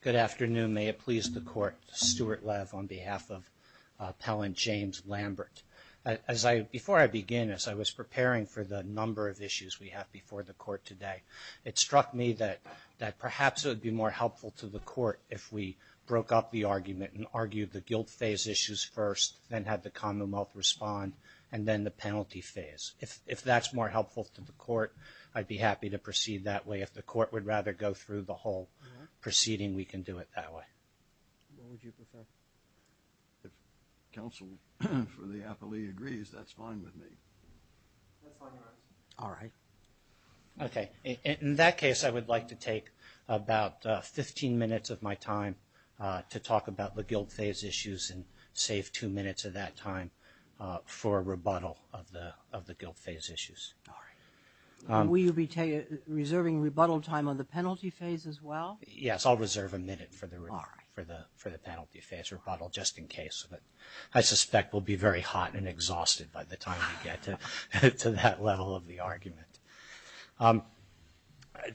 Good afternoon. May it please the Court, Stuart Lev on behalf of Appellant James Lambert. Before I begin, as I was preparing for the number of issues we have before the Court today, it struck me that perhaps it would be more helpful to the Court if we broke up the argument and argued the guilt phase issues first, then had the Commonwealth respond, and then the penalty phase. If that's more helpful to the Court, I'd be happy to proceed that way. If the Court would rather go through the whole proceeding, we can do it that way. What would you prefer? If counsel for the appellee agrees, that's fine with me. That's fine with us. All right. Okay. In that case, I would like to take about 15 minutes of my time to talk about the guilt phase issues and save two minutes of that time for a rebuttal of the guilt phase issues. All right. Will you be reserving rebuttal time on the penalty phase as well? Yes, I'll reserve a minute for the penalty phase rebuttal just in case. I suspect we'll be very hot and exhausted by the time we get to that level of the argument.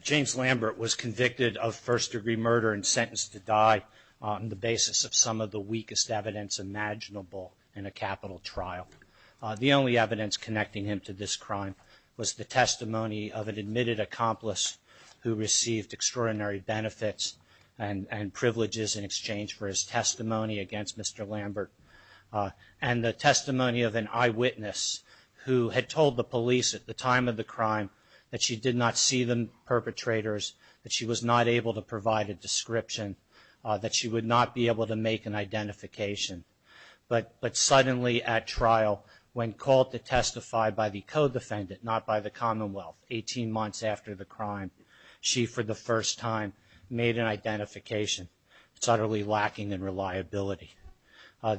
James Lambert was convicted of first-degree murder and sentenced to die on the basis of some of the weakest evidence imaginable in a capital trial. The only evidence connecting him to this crime was the testimony of an admitted accomplice who received extraordinary benefits and privileges in exchange for his testimony against Mr. Lambert and the testimony of an eyewitness who had told the police at the time of the crime that she did not see the perpetrators, that she was not able to provide a description, that she would not be able to make an identification. But suddenly at trial, when called to testify by the co-defendant, not by the Commonwealth, 18 months after the crime, she for the first time made an identification. It's utterly lacking in reliability.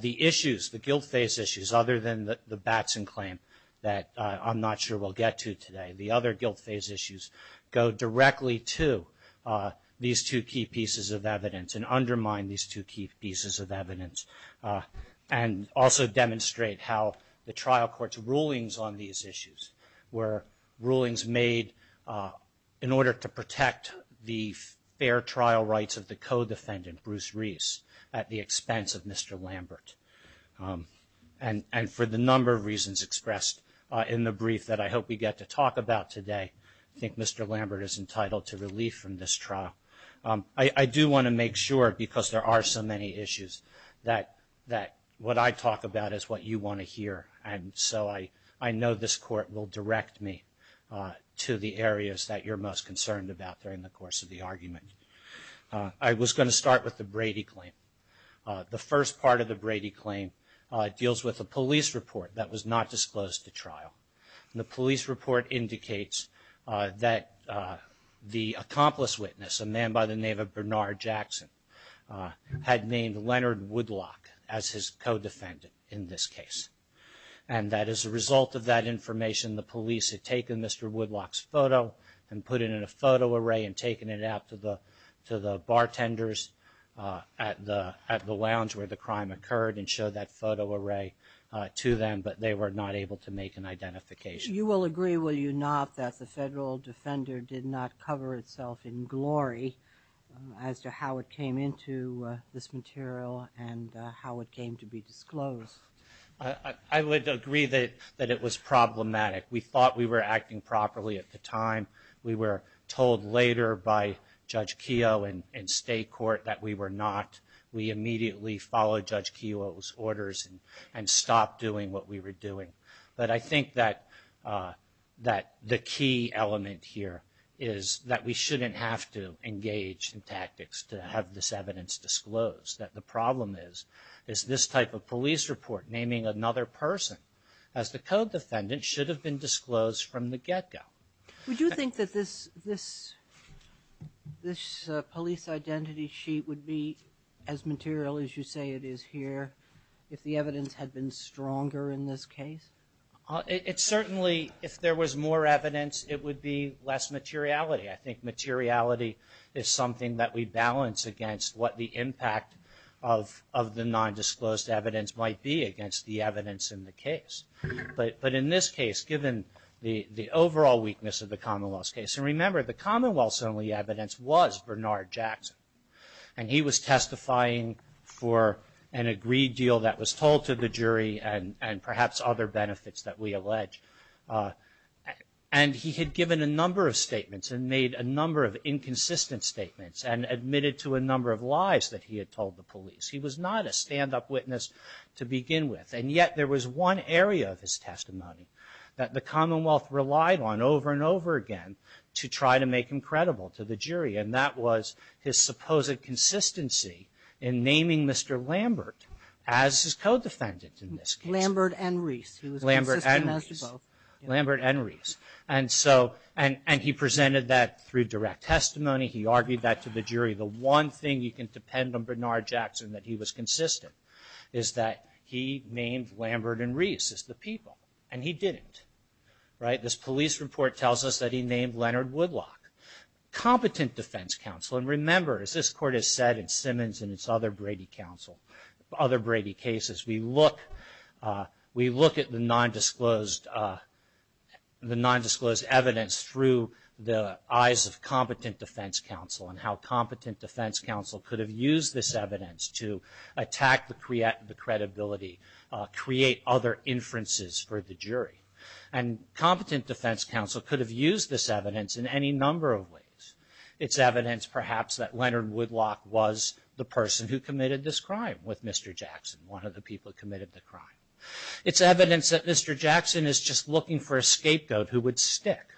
The issues, the guilt phase issues, other than the Batson claim that I'm not sure we'll get to today, the other guilt phase issues go directly to these two key pieces of evidence and undermine these two key pieces of evidence and also demonstrate how the trial court's rulings on these issues were rulings made in order to protect the fair trial rights of the co-defendant, Bruce Reese, at the expense of Mr. Lambert. And for the number of reasons expressed in the brief that I hope we get to talk about today, I think Mr. Lambert is entitled to relief from this trial. I do want to make sure, because there are so many issues, and so I know this court will direct me to the areas that you're most concerned about during the course of the argument. I was going to start with the Brady claim. The first part of the Brady claim deals with a police report that was not disclosed to trial. The police report indicates that the accomplice witness, a man by the name of Bernard Jackson, had named Leonard Woodlock as his co-defendant in this case. And that as a result of that information, the police had taken Mr. Woodlock's photo and put it in a photo array and taken it out to the bartenders at the lounge where the crime occurred and showed that photo array to them, but they were not able to make an identification. You will agree, will you not, that the federal defender did not cover itself in glory as to how it came into this material and how it came to be disclosed? I would agree that it was problematic. We thought we were acting properly at the time. We were told later by Judge Keogh and state court that we were not. We immediately followed Judge Keogh's orders and stopped doing what we were doing. But I think that the key element here is that we shouldn't have to engage in tactics to have this evidence disclosed. The problem is this type of police report naming another person as the co-defendant should have been disclosed from the get-go. Would you think that this police identity sheet would be as material as you say it is here if the evidence had been stronger in this case? It certainly, if there was more evidence, it would be less materiality. I think materiality is something that we balance against what the impact of the non-disclosed evidence might be against the evidence in the case. But in this case, given the overall weakness of the Commonwealth's case, and remember the Commonwealth's only evidence was Bernard Jackson and he was testifying for an agreed deal that was told to the jury and perhaps other benefits that we allege. And he had given a number of statements and made a number of inconsistent statements and admitted to a number of lies that he had told the police. He was not a stand-up witness to begin with and yet there was one area of his testimony that the Commonwealth relied on over and over again to try to make him credible to the jury and that was his supposed consistency in naming Mr. Lambert as his co-defendant in this case. Lambert and Reese. Lambert and Reese. Lambert and Reese. And so, and he presented that through direct testimony, he argued that to the jury. The one thing you can depend on Bernard Jackson that he was consistent is that he named Lambert and Reese as the people and he didn't. Right, this police report tells us that he named Leonard Woodlock. Competent defense counsel, and remember as this court has said in Simmons and its other Brady cases, we look at the nondisclosed evidence through the eyes of competent defense counsel and how competent defense counsel could have used this evidence to attack the credibility, create other inferences for the jury. And competent defense counsel could have used this evidence in any number of ways. It's evidence perhaps that Leonard Woodlock was the person who committed this crime with Mr. Jackson, one of the people who committed the crime. It's evidence that Mr. Jackson is just looking for a scapegoat who would stick.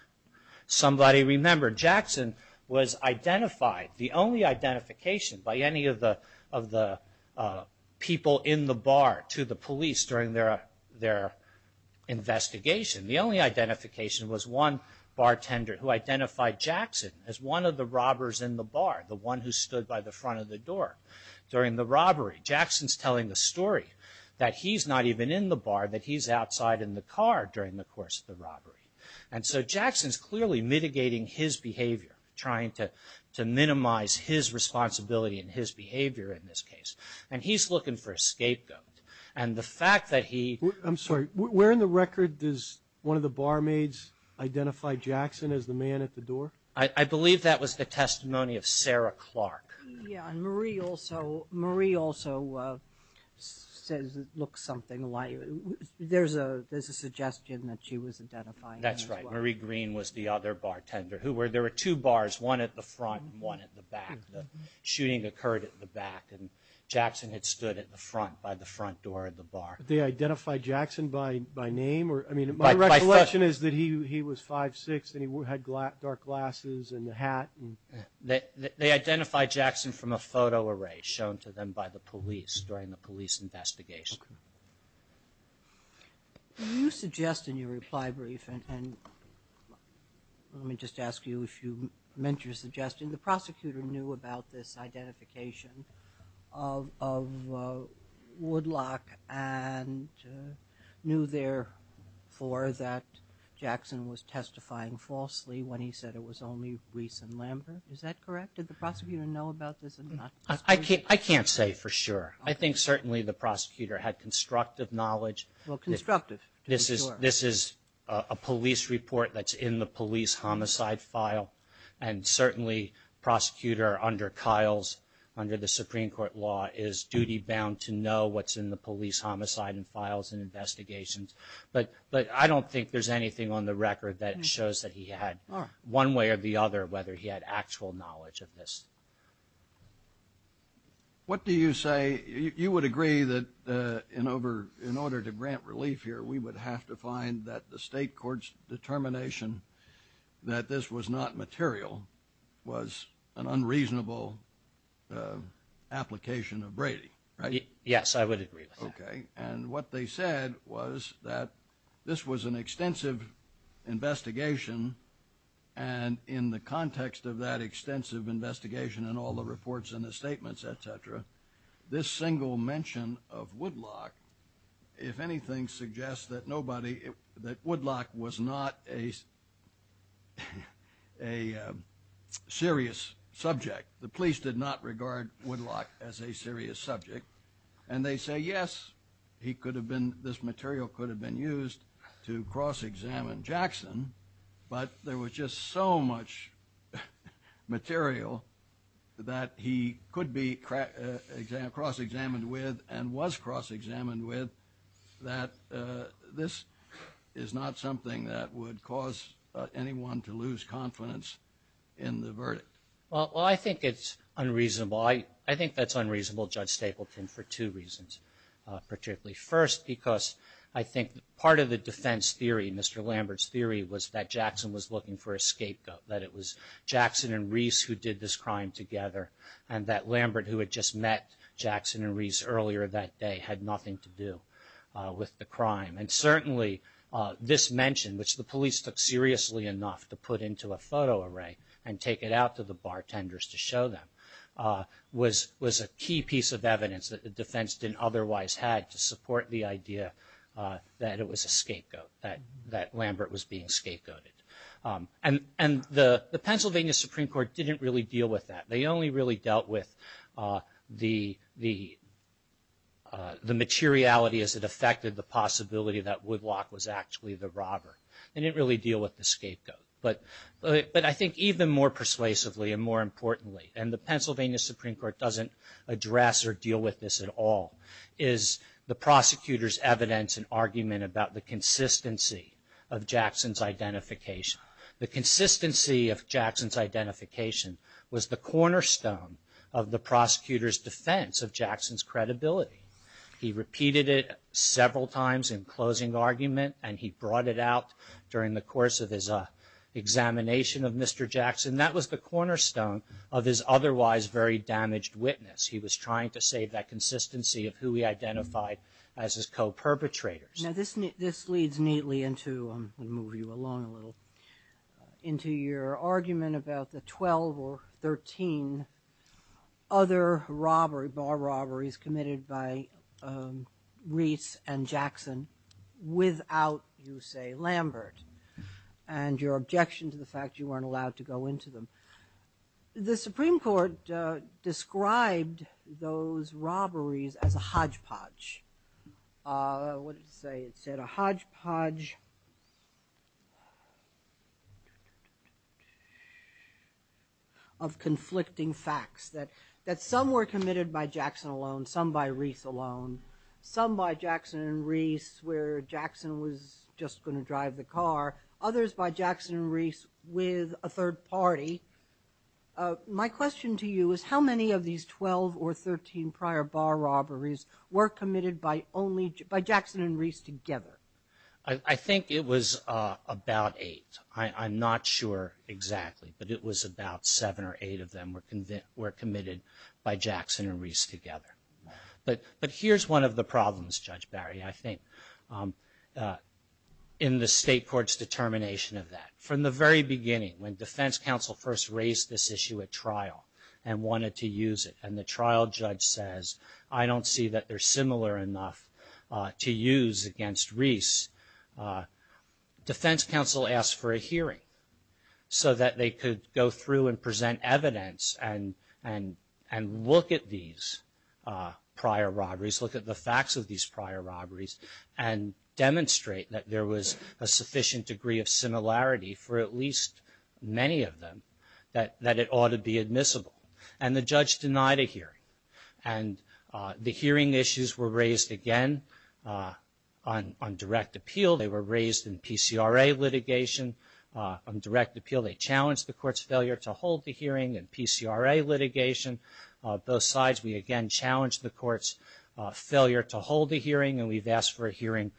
Somebody remember, Jackson was identified, the only identification by any of the people in the bar to the police during their investigation. The only identification was one bartender who identified Jackson as one of the robbers in the bar, the one who stood by the front of the door during the robbery. Jackson's telling the story that he's not even in the bar, that he's outside in the car during the course of the robbery. And so Jackson's clearly mitigating his behavior, trying to minimize his responsibility and his behavior in this case. And he's looking for a scapegoat. And the fact that he... I'm sorry, where in the record does one of the barmaids identify Jackson as the man at the door? I believe that was the testimony of Sarah Clark. Yeah, and Marie also says it looks something like... There's a suggestion that she was identifying... That's right, Marie Green was the other bartender. There were two bars, one at the front and one at the back. The shooting occurred at the back. And Jackson had stood at the front, by the front door of the bar. Did they identify Jackson by name? My recollection is that he was 5'6", and he had dark glasses and a hat. They identified Jackson from a photo array shown to them by the police during the police investigation. Can you suggest in your reply brief, and let me just ask you if you meant you're suggesting, the prosecutor knew about this identification of Woodlock and knew therefore that Jackson was testifying falsely when he said it was only Grease and Lambert? Is that correct? Did the prosecutor know about this? I can't say for sure. I think certainly the prosecutor had constructive knowledge. Well, constructive. This is a police report that's in the police homicide file. And certainly the prosecutor under Kyle's, under the Supreme Court law, is duty-bound to know what's in the police homicide files and investigations. But I don't think there's anything on the record that shows that he had one way or the other whether he had actual knowledge of this. What do you say? You would agree that in order to grant relief here, we would have to find that the state court's determination that this was not material was an unreasonable application of Brady, right? Yes, I would agree with that. And what they said was that this was an extensive investigation, and in the context of that extensive investigation and all the reports and the statements, et cetera, this single mention of Woodlock, if anything, suggests that nobody, that Woodlock was not a serious subject. The police did not regard Woodlock as a serious subject. And they say, yes, he could have been, this material could have been used to cross-examine Jackson, but there was just so much material that he could be cross-examined with and was cross-examined with that this is not something that would cause anyone to lose confidence in the verdict. Well, I think it's unreasonable. I think that's unreasonable, Judge Stapleton, for two reasons, particularly. First, because I think part of the defense theory, Mr. Lambert's theory, was that Jackson was looking for a scapegoat, that it was Jackson and Reese who did this crime together, and that Lambert, who had just met Jackson and Reese earlier that day, had nothing to do with the crime. And certainly this mention, which the police took seriously enough to put into a photo array and take it out to the bartenders to show them, was a key piece of evidence that the defense didn't otherwise have to support the idea that it was a scapegoat, that Lambert was being scapegoated. And the Pennsylvania Supreme Court didn't really deal with that. They only really dealt with the materiality as it affected the possibility that Woodlock was actually the robber. They didn't really deal with the scapegoat. But I think even more persuasively and more importantly, and the Pennsylvania Supreme Court doesn't address or deal with this at all, is the prosecutor's evidence and argument about the consistency of Jackson's identification. The consistency of Jackson's identification was the cornerstone of the prosecutor's defense of Jackson's credibility. He repeated it several times in closing argument, and he brought it out during the course of his examination of Mr. Jackson. That was the cornerstone of his otherwise very damaged witness. He was trying to save that consistency of who he identified as his co-perpetrators. Now this leads neatly into, I'm going to move you along a little, into your argument about the 12 or 13 other bar robberies committed by Reese and Jackson without, you say, Lambert, and your objection to the fact you weren't allowed to go into them. The Supreme Court described those robberies as a hodgepodge. They said a hodgepodge of conflicting facts. That some were committed by Jackson alone, some by Reese alone. Some by Jackson and Reese where Jackson was just going to drive the car. Others by Jackson and Reese with a third party. My question to you is how many of these 12 or 13 prior bar robberies were committed by only, by Jackson and Reese together? I think it was about eight. I'm not sure exactly, but it was about seven or eight of them were committed by Jackson and Reese together. But here's one of the problems, Judge Barry, I think, in the state court's determination of that. From the very beginning, when defense counsel first raised this issue at trial and wanted to use it, and the trial judge says, I don't see that they're similar enough to use against Reese, defense counsel asked for a hearing so that they could go through and present evidence and look at these prior robberies, look at the facts of these prior robberies, and demonstrate that there was a sufficient degree of similarity for at least many of them, that it ought to be admissible. And the judge denied a hearing. And the hearing issues were raised again on direct appeal. They were raised in PCRA litigation. On direct appeal they challenged the court's failure to hold the hearing in PCRA litigation. Those sides, we again challenged the court's failure to hold the hearing, and we've asked for a hearing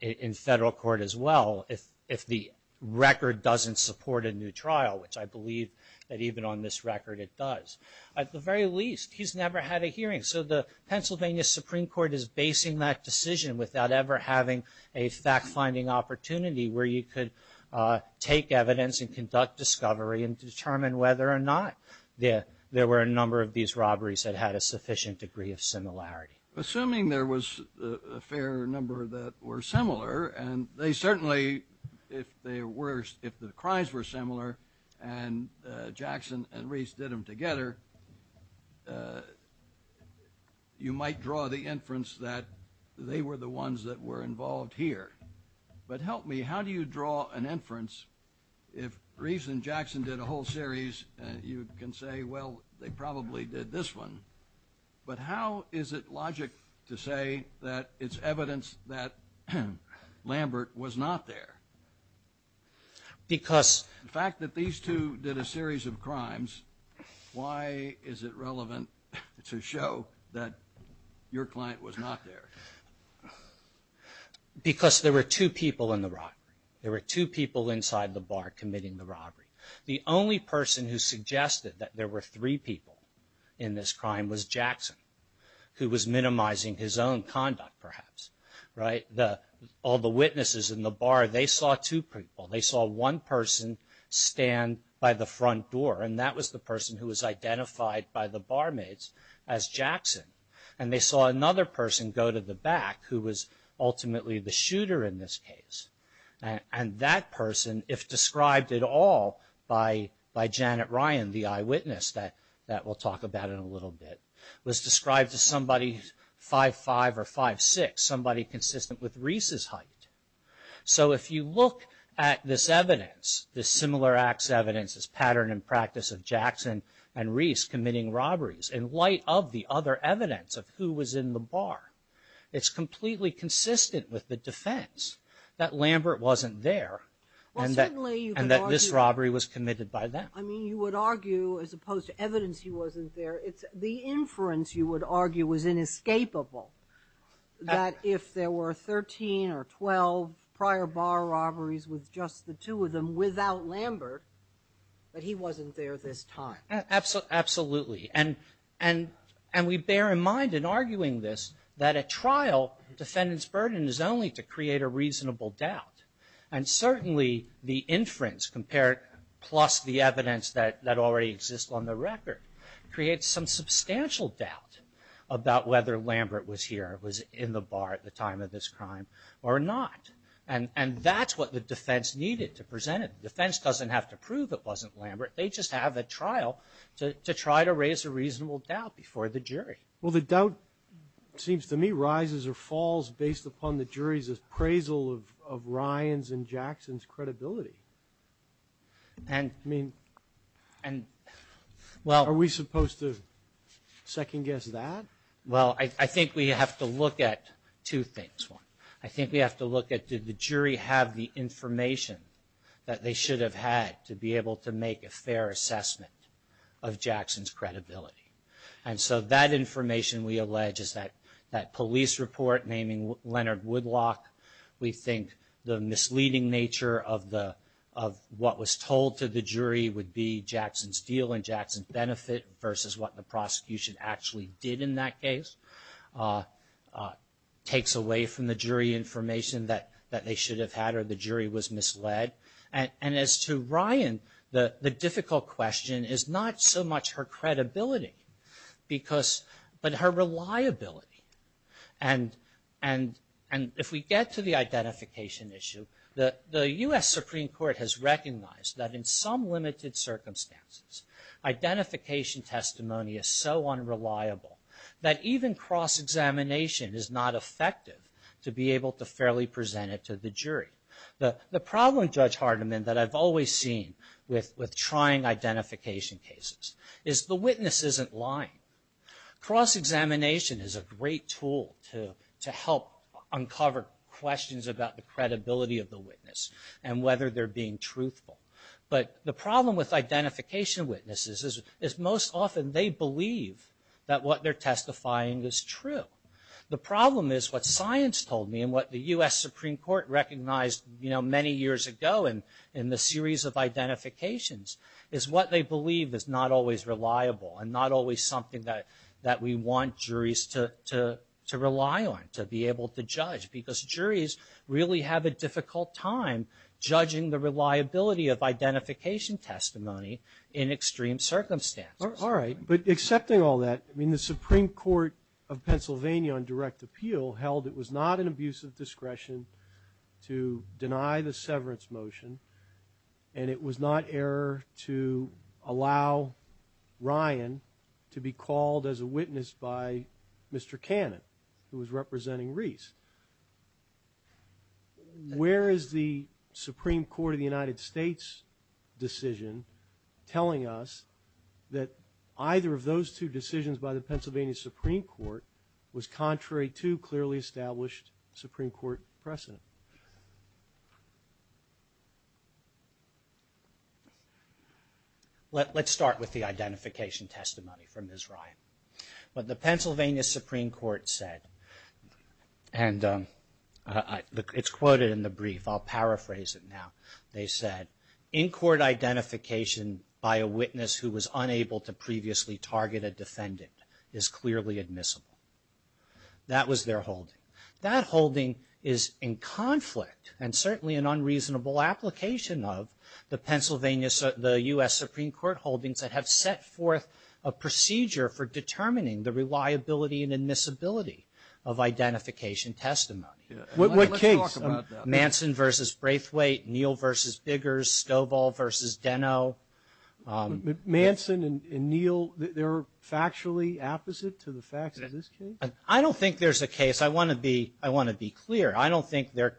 in federal court as well if the record doesn't support a new trial, which I believe that even on this record it does. At the very least, he's never had a hearing. So the Pennsylvania Supreme Court is basing that decision without ever having a fact-finding opportunity where you could take evidence and conduct discovery and determine whether or not there were a number of these robberies that had a sufficient degree of similarity. Assuming there was a fair number that were similar, and they certainly, if they were, if the crimes were similar and Jackson and Reese did them together, you might draw the inference that they were the ones that were involved here. But help me, how do you draw an inference if Reese and Jackson did a whole series, you can say, well, they probably did this one. But how is it logic to say that it's evidence that Lambert was not there? The fact that these two did a series of crimes, why is it relevant to show that your client was not there? There were two people in the robbery. There were two people inside the bar committing the robbery. The only person who suggested that there were three people in this crime was Jackson, who was minimizing his own conduct, perhaps. All the witnesses in the bar, they saw two people. They saw one person stand by the front door, and that was the person who was identified by the barmaids as Jackson. And they saw another person go to the back, who was ultimately the shooter in this case. And that person, if described at all by Janet Ryan, the eyewitness that we'll talk about in a little bit, was described as somebody 5'5 or 5'6, somebody consistent with Reese's height. So if you look at this evidence, this similar acts evidence, this pattern and practice of Jackson and Reese committing robberies, in light of the other evidence of who was in the bar, it's completely consistent with the defense that Lambert wasn't there and that this robbery was committed by them. I mean, you would argue, as opposed to evidence he wasn't there, the inference you would argue was inescapable, that if there were 13 or 12 prior bar robberies with just the two of them without Lambert, that he wasn't there at this time. Absolutely. And we bear in mind in arguing this that at trial, the defendant's burden is only to create a reasonable doubt. And certainly the inference compared plus the evidence that already exists on the record creates some substantial doubt about whether Lambert was here, was in the bar at the time of this crime or not. And that's what the defense needed to present it. The defense doesn't have to prove it wasn't Lambert. They just have a trial to try to raise a reasonable doubt before the jury. Well, the doubt seems to me rises or falls based upon the jury's appraisal of Ryan's and Jackson's credibility. And, I mean, are we supposed to second-guess that? Well, I think we have to look at two things. I think we have to look at did the jury have the information that they should have had to be able to make a fair assessment of Jackson's credibility. And so that information, we allege, is that police report naming Leonard Woodlock. We think the misleading nature of what was told to the jury would be Jackson's deal and Jackson's benefit versus what the prosecution actually did in that case takes away from the jury information that they should have had or the jury was misled. And as to Ryan, the difficult question is not so much her credibility but her reliability. And if we get to the identification issue, the U.S. Supreme Court has recognized that in some limited circumstances, identification testimony is so unreliable that even cross-examination is not effective to be able to fairly present it to the jury. The problem, Judge Hardiman, that I've always seen with trying identification cases is the witness isn't lying. Cross-examination is a great tool to help uncover questions about the credibility of the witness and whether they're being truthful. But the problem with identification witnesses is most often they believe that what they're testifying is true. The problem is what science told me and what the U.S. Supreme Court recognized many years ago in the series of identifications is what they believe is not always reliable and not always something that we want juries to rely on to be able to judge because juries really have a difficult time judging the reliability of identification testimony in extreme circumstances. All right. But accepting all that, I mean, the Supreme Court of Pennsylvania on direct appeal held it was not an abuse of discretion to deny the severance motion and it was not error to allow Ryan to be called as a witness by Mr. Cannon who was representing Reese. Where is the Supreme Court of the United States decision telling us that either of those two decisions by the Pennsylvania Supreme Court was contrary to clearly established Supreme Court precedent? Let's start with the identification testimony from Ms. Ryan. What the Pennsylvania Supreme Court said and it's quoted in the brief. I'll paraphrase it now. They said, in court identification by a witness who was unable to previously target a defendant is clearly admissible. That was their holding. That holding is in conflict and certainly an unreasonable application of the Pennsylvania, the U.S. Supreme Court holdings that have set forth a procedure for determining the reliability and admissibility of identification testimony. What case? Manson versus Braithwaite, Neal versus Diggers, Stovall versus Deno. Manson and Neal, they're factually opposite to the fact that this case? I don't think there's a case. I want to be clear. I don't think they're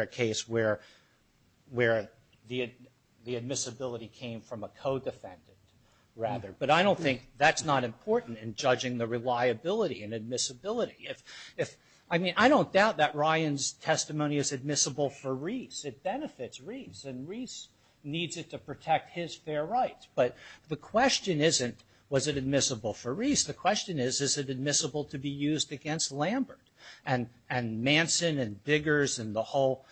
a case where the admissibility came from a co-defendant rather. But I don't think that's not important in judging the reliability and admissibility. I mean, I don't doubt that Ryan's testimony is admissible for Reese. It benefits Reese and Reese needs it to protect his fair rights. But the question isn't, was it admissible for Reese? The question is, is it admissible to be used against Lambert? And Manson and Diggers and the whole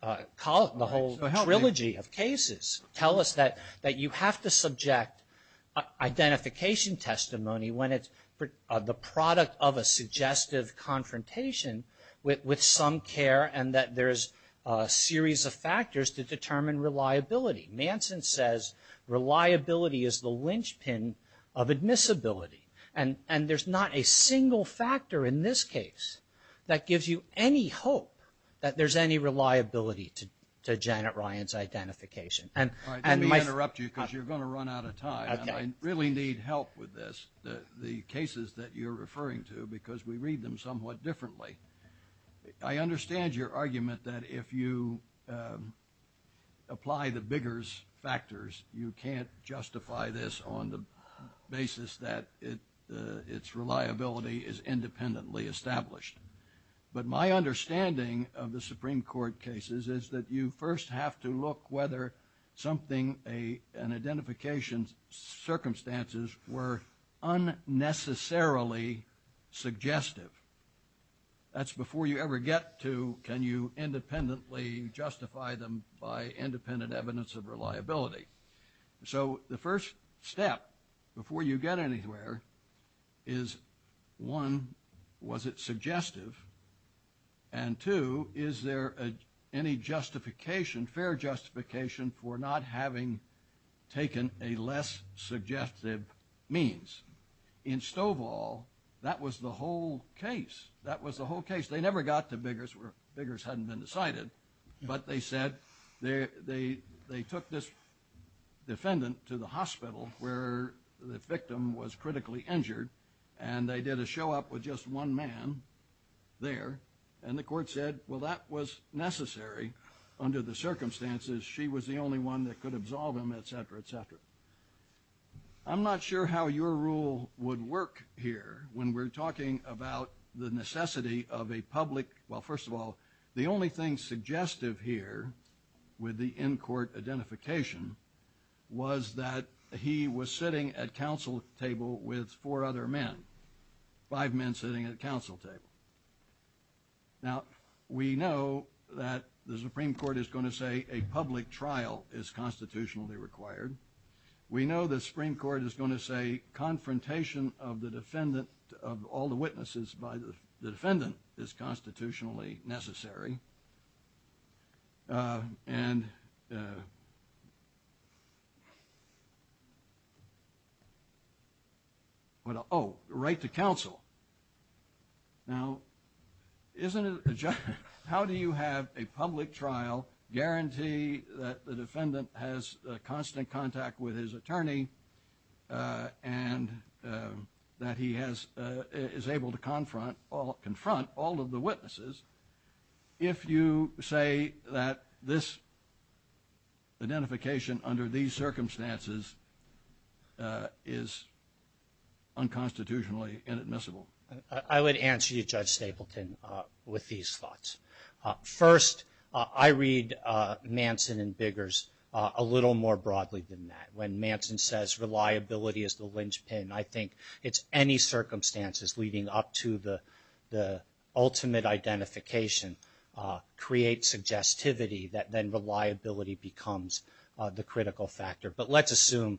trilogy of cases tell us that you have to subject identification testimony when it's the product of a suggestive confrontation with some care and that there's a series of factors to determine reliability. Manson says reliability is the linchpin of admissibility. And there's not a single factor in this case that gives you any hope that there's any reliability to Janet Ryan's identification. I didn't mean to interrupt you because you're going to run out of time. I really need help with this, the cases that you're referring to, because we read them somewhat differently. I understand your argument that if you apply the Diggers factors, you can't justify this on the basis that its reliability is independently established. But my understanding of the Supreme Court cases is that you first have to look whether an identification's circumstances were unnecessarily suggestive. That's before you ever get to can you independently justify them by independent evidence of reliability. So the first step before you get anywhere is, one, was it suggestive? And two, is there any justification, fair justification, for not having taken a less suggestive means? In Stovall, that was the whole case. That was the whole case. They never got to Diggers where Diggers hadn't been decided. But they said they took this defendant to the hospital where the victim was there, and the court said, well, that was necessary under the circumstances. She was the only one that could absolve him, et cetera, et cetera. I'm not sure how your rule would work here when we're talking about the necessity of a public – well, first of all, the only thing suggestive here with the in-court identification was that he was sitting at counsel table with four other men, five men sitting at counsel table. Now, we know that the Supreme Court is going to say a public trial is constitutionally required. We know the Supreme Court is going to say confrontation of the defendant, of all the witnesses by the defendant, is constitutionally necessary. And – oh, right to counsel. Now, isn't it – how do you have a public trial guarantee that the defendant has constant contact with his attorney and that he is able to confront all of the if you say that this identification under these circumstances is unconstitutionally inadmissible? I would answer you, Judge Stapleton, with these thoughts. First, I read Manson and Biggers a little more broadly than that. When Manson says reliability is the linchpin, I think it's any circumstances leading up to the ultimate identification creates suggestivity that then reliability becomes the critical factor. But let's assume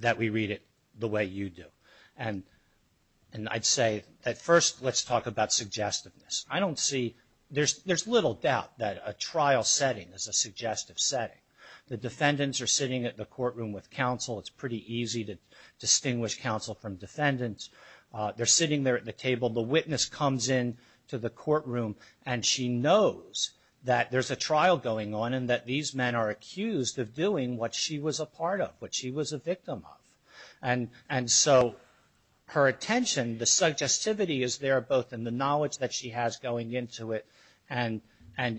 that we read it the way you do. And I'd say at first let's talk about suggestiveness. I don't see – there's little doubt that a trial setting is a suggestive setting. The defendants are sitting at the courtroom with counsel. It's pretty easy to distinguish counsel from defendants. They're sitting there at the table. The witness comes in to the courtroom and she knows that there's a trial going on and that these men are accused of doing what she was a part of, what she was a victim of. And so her attention, the suggestivity is there both in the knowledge that she has going into it and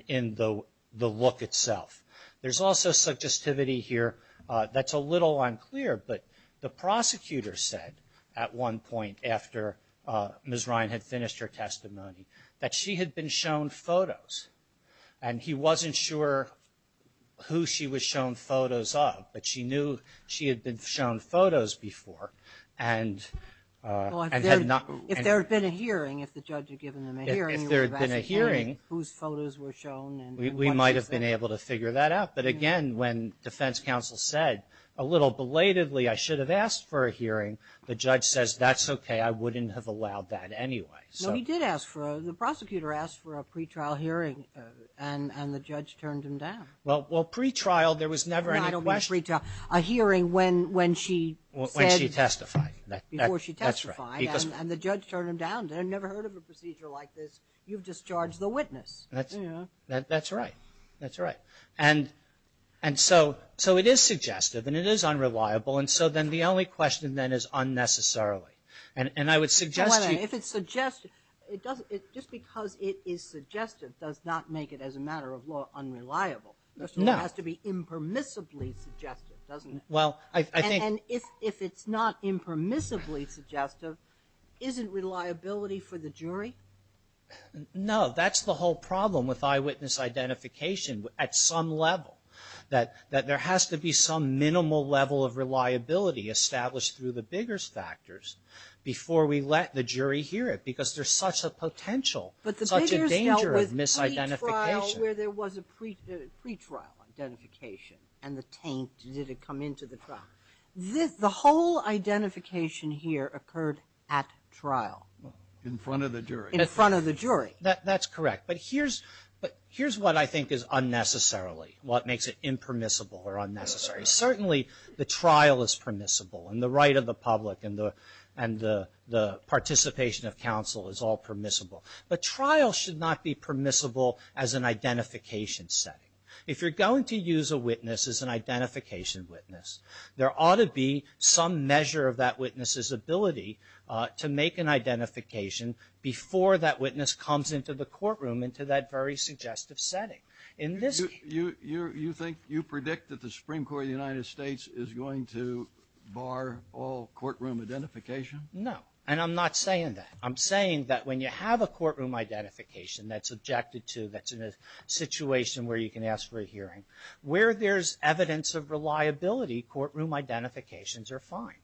in the look itself. There's also suggestivity here that's a little unclear. But the prosecutor said at one point after Ms. Ryan had finished her testimony that she had been shown photos. And he wasn't sure who she was shown photos of, but she knew she had been shown photos before. If there had been a hearing, if the judge had given them a hearing, you would have had a hearing whose photos were shown. We might have been able to figure that out. But, again, when defense counsel said a little belatedly I should have asked for a hearing, the judge says that's okay. I wouldn't have allowed that anyway. No, he did ask for a – the prosecutor asked for a pretrial hearing and the judge turned him down. Well, pretrial, there was never any question. A hearing when she testified. Before she testified and the judge turned him down. I've never heard of a procedure like this. You've discharged the witness. That's right. That's right. And so it is suggestive and it is unreliable. And so then the only question then is unnecessarily. And I would suggest – Hold on. If it's suggestive, just because it is suggestive does not make it as a matter of law unreliable. No. It has to be impermissibly suggestive, doesn't it? Well, I think – And if it's not impermissibly suggestive, isn't reliability for the jury? No. That's the whole problem with eyewitness identification at some level. That there has to be some minimal level of reliability established through the bigger factors before we let the jury hear it. Because there's such a potential, such a danger of misidentification. But the bigger stuff was the trial where there was a pretrial identification and the taint didn't come into the trial. The whole identification here occurred at trial. In front of the jury. In front of the jury. That's correct. But here's what I think is unnecessarily, what makes it impermissible or unnecessary. Certainly the trial is permissible and the right of the public and the participation of counsel is all permissible. The trial should not be permissible as an identification setting. If you're going to use a witness as an identification witness, there ought to be some measure of that witness's ability to make an identification before that witness comes into the courtroom, into that very suggestive setting. You predict that the Supreme Court of the United States is going to bar all courtroom identification? No. And I'm not saying that. I'm saying that when you have a courtroom identification that's objected to, that's in a situation where you can ask for a hearing, where there's evidence of reliability, courtroom identifications are fine.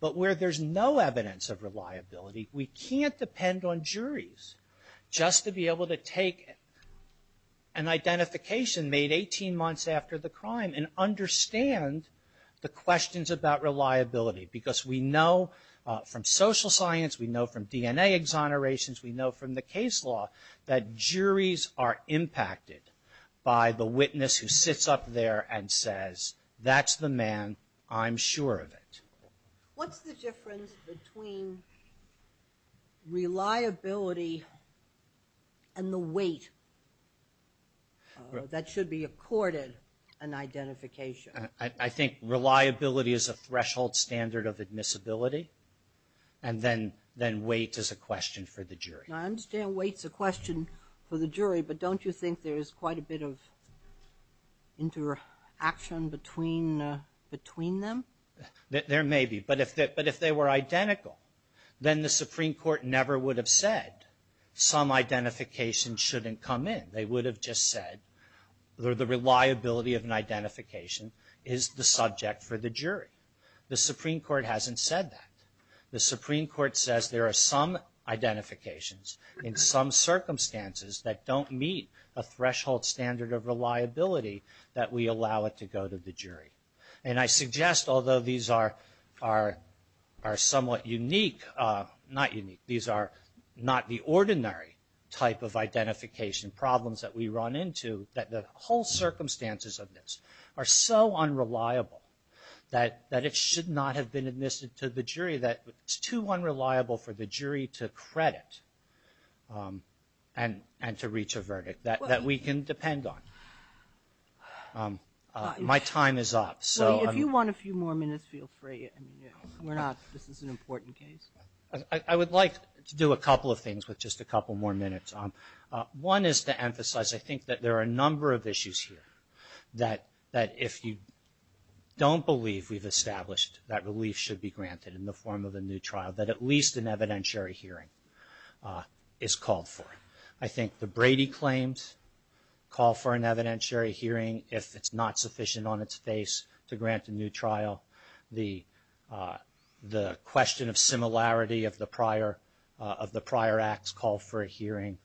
But where there's no evidence of reliability, we can't depend on juries just to be able to take an identification made 18 months after the crime and understand the questions about reliability. Because we know from social science, we know from DNA exonerations, we know from the case law that juries are impacted by the witness who sits up there and says, that's the man, I'm sure of it. What's the difference between reliability and the weight that should be accorded an identification? I think reliability is a threshold standard of admissibility. And then weight is a question for the jury. I understand weight's a question for the jury, but don't you think there's quite a bit of interaction between them? There may be. But if they were identical, then the Supreme Court never would have said, some identification shouldn't come in. They would have just said, the reliability of an identification is the subject for the jury. The Supreme Court hasn't said that. The Supreme Court says there are some identifications in some circumstances that don't meet a threshold standard of reliability that we allow it to go to the jury. And I suggest, although these are somewhat unique, not unique, these are not the ordinary type of identification problems that we run into, that the whole circumstances of this are so unreliable that it should not have been admitted to the jury, that it's too unreliable for the jury to credit and to reach a verdict that we can depend on. My time is up. If you want a few more minutes, feel free. This is an important case. I would like to do a couple of things with just a couple more minutes. One is to emphasize, I think, that there are a number of issues here that if you don't believe we've established that relief should be granted in the form of a new trial, that at least an evidentiary hearing is called for. I think the Brady claims call for an evidentiary hearing if it's not sufficient on its face to grant a new trial. The question of similarity of the prior act's call for a hearing.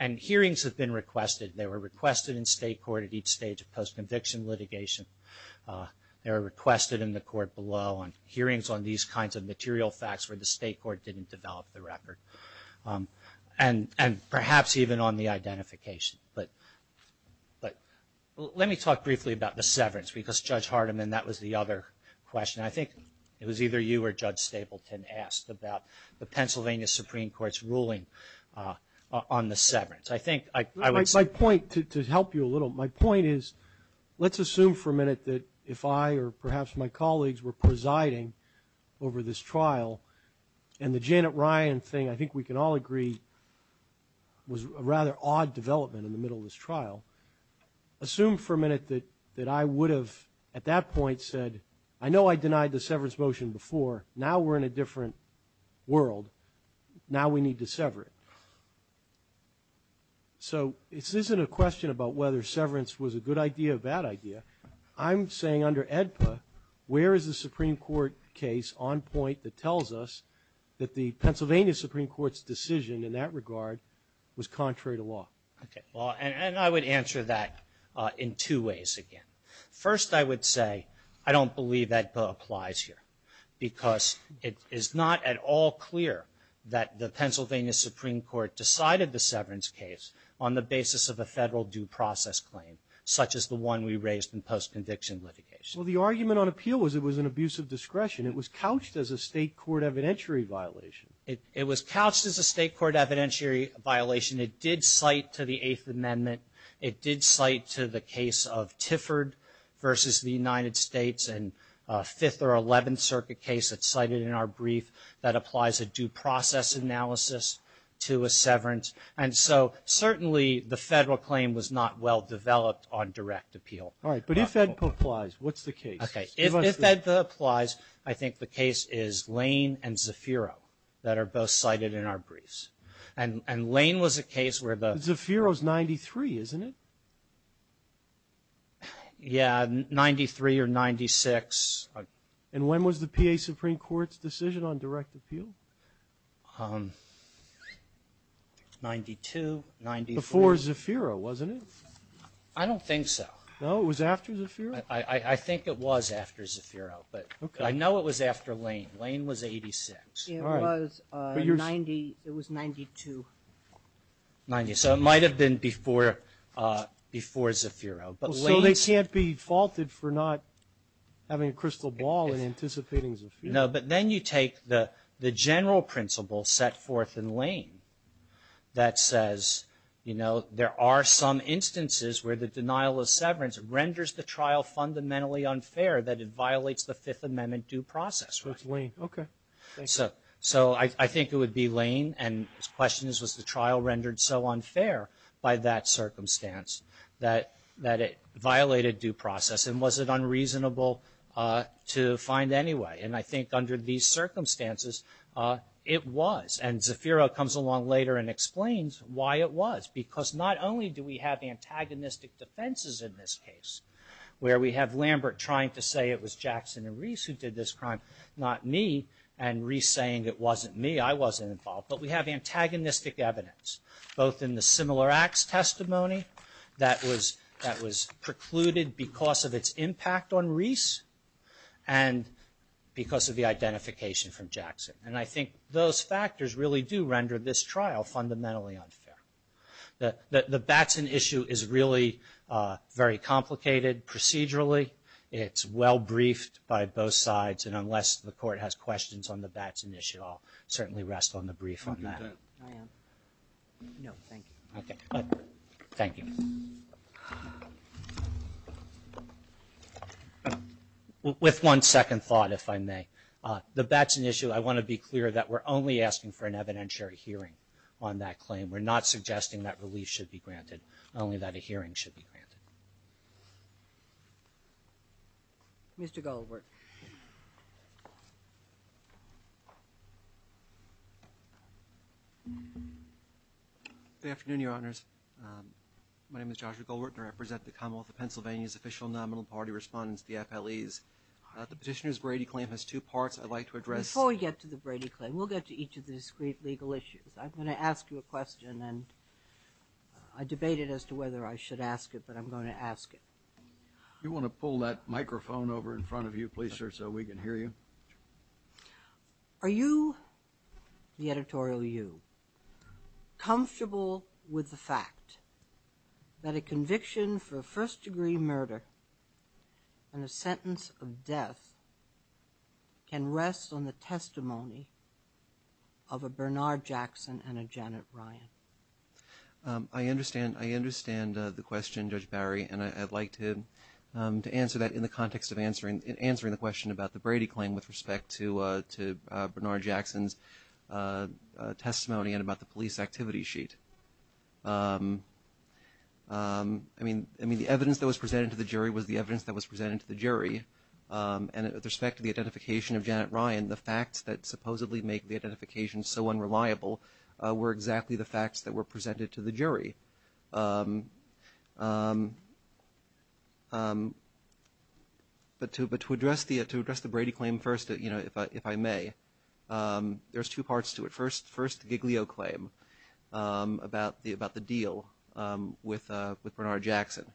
And hearings have been requested. They were requested in state court at each stage of post-conviction litigation. They were requested in the court below on hearings on these kinds of material facts where the state court didn't develop the record, and perhaps even on the identification. But let me talk briefly about the severance, because Judge Hardiman, that was the other question. I think it was either you or Judge Stapleton asked about the Pennsylvania Supreme Court's ruling on the severance. I think I would say... My point, to help you a little, my point is let's assume for a minute that if I or perhaps my colleagues were presiding over this trial, and the Janet Ryan thing, I think we can all agree, was a rather odd development in the middle of this trial. Assume for a minute that I would have at that point said, I know I denied the severance motion before. Now we're in a different world. Now we need to sever it. So this isn't a question about whether severance was a good idea or a bad idea. I'm saying under AEDPA, where is the Supreme Court case on point that tells us that the Pennsylvania Supreme Court's decision in that regard was contrary to law? Okay. And I would answer that in two ways again. First, I would say I don't believe that applies here, because it is not at all clear that the Pennsylvania Supreme Court decided the severance case on the basis of a federal due process claim, such as the one we raised in post-conviction litigation. Well, the argument on appeal was it was an abuse of discretion. It was couched as a state court evidentiary violation. It was couched as a state court evidentiary violation. It did cite to the Eighth Amendment. It did cite to the case of Tifford versus the United States, and a Fifth or Eleventh Circuit case that's cited in our brief that applies a due process analysis to a severance. And so certainly the federal claim was not well-developed on direct appeal. All right. But if AEDPA applies, what's the case? Okay. If AEDPA applies, I think the case is Lane and Zafiro that are both cited in our briefs. And Lane was a case where the – Zafiro's 93, isn't it? Yeah, 93 or 96. And when was the PA Supreme Court's decision on direct appeal? It's 92, 94. Before Zafiro, wasn't it? I don't think so. No, it was after Zafiro? I think it was after Zafiro, but I know it was after Lane. Lane was 86. It was 92. So it might have been before Zafiro. So they can't be faulted for not having a crystal ball and anticipating Zafiro. No, but then you take the general principle set forth in Lane that says, you know, there are some instances where the denial of severance renders the trial fundamentally unfair, that it violates the Fifth Amendment due process. With Lane, okay. So I think it would be Lane, and the question is, was the trial rendered so unfair by that circumstance that it violated due process? And was it unreasonable to find anyway? And I think under these circumstances, it was. And Zafiro comes along later and explains why it was, because not only do we have antagonistic defenses in this case, where we have Lambert trying to say it was Jackson and Reese who did this crime, not me, and Reese saying it wasn't me, I wasn't involved, but we have antagonistic evidence, both in the similar acts testimony that was precluded because of its impact on Reese and because of the identification from Jackson. And I think those factors really do render this trial fundamentally unfair. The Batson issue is really very complicated procedurally. It's well briefed by both sides, and unless the court has questions on the Batson issue, I'll certainly rest on the brief on that. Thank you. With one second thought, if I may, the Batson issue, I want to be clear that we're only asking for an evidentiary hearing on that claim. We're not suggesting that relief should be granted, only that a hearing should be granted. Mr. Goldwurtner. Good afternoon, Your Honors. My name is Joshua Goldwurtner. I represent the Commonwealth of Pennsylvania's official nominal party respondents, the FLEs. The petitioner's Brady claim has two parts I'd like to address. Before we get to the Brady claim, we'll get to each of the discrete legal issues. I'm going to ask you a question, and I debated as to whether I should ask it, but I'm going to ask it. If you want to pull that microphone over in front of you, please, so we can hear you. Are you, the editorial you, comfortable with the fact that a conviction for first-degree murder and a sentence of death can rest on the testimony of a Bernard Jackson and a Janet Ryan? I understand the question, Judge Barry, and I'd like to answer that in the context of answering the question about the Brady claim with respect to Bernard Jackson's testimony and about the police activity sheet. I mean, the evidence that was presented to the jury was the evidence that was presented to the jury, and with respect to the identification of Janet Ryan, the facts that supposedly make the identification so unreliable were exactly the facts that were presented to the jury. But to address the Brady claim first, if I may, there's two parts to it. There's the first Giglio claim about the deal with Bernard Jackson.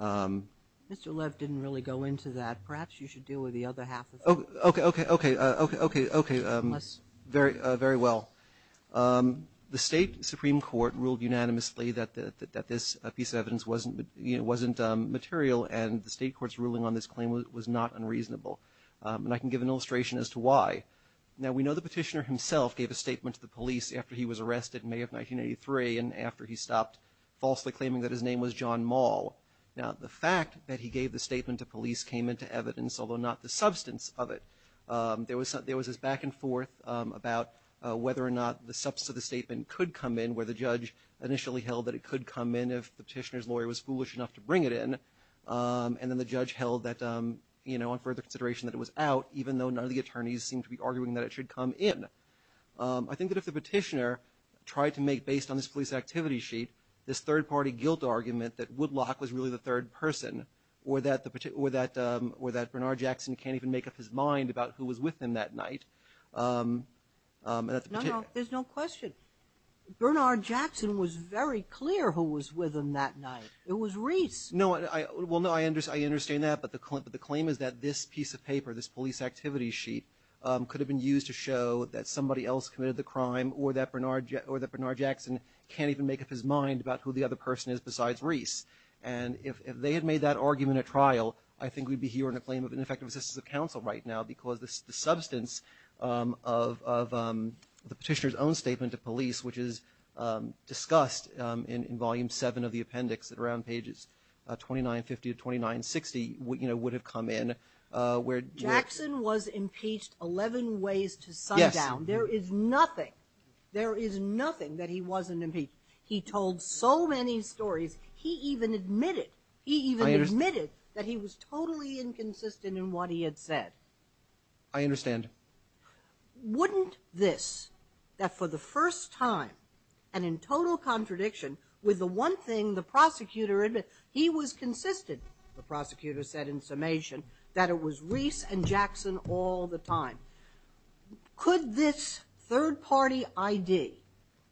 Mr. Lev didn't really go into that. Perhaps you should deal with the other half of it. Okay, very well. The state supreme court ruled unanimously that this piece of evidence wasn't material, and the state court's ruling on this claim was not unreasonable, and I can give an illustration as to why. Now, we know the petitioner himself gave a statement to the police after he was arrested in May of 1983 and after he stopped falsely claiming that his name was John Maul. Now, the fact that he gave the statement to police came into evidence, although not the substance of it. There was this back and forth about whether or not the substance of the statement could come in, where the judge initially held that it could come in if the petitioner's lawyer was foolish enough to bring it in, and then the judge held that on further consideration that it was out, even though none of the attorneys seemed to be arguing that it should come in. I think that if the petitioner tried to make, based on this police activity sheet, this third-party guilt argument that Woodlock was really the third person or that Bernard Jackson can't even make up his mind about who was with him that night. No, no, there's no question. Bernard Jackson was very clear who was with him that night. It was Reese. No, well, no, I understand that, but the claim is that this piece of paper, this police activity sheet, could have been used to show that somebody else committed the crime or that Bernard Jackson can't even make up his mind about who the other person is besides Reese. And if they had made that argument a trial, I think we'd be hearing a claim of ineffective assistance of counsel right now because the substance of the petitioner's own statement to police, which is discussed in Volume 7 of the appendix at around pages 2950 to 2960, would have come in. Jackson was impeached 11 ways to sundown. There is nothing, there is nothing that he wasn't impeached. He told so many stories, he even admitted that he was totally inconsistent in what he had said. I understand. Wouldn't this, that for the first time, and in total contradiction, with the one thing the prosecutor admitted, he was consistent, the prosecutor said in summation, that it was Reese and Jackson all the time. Could this third-party ID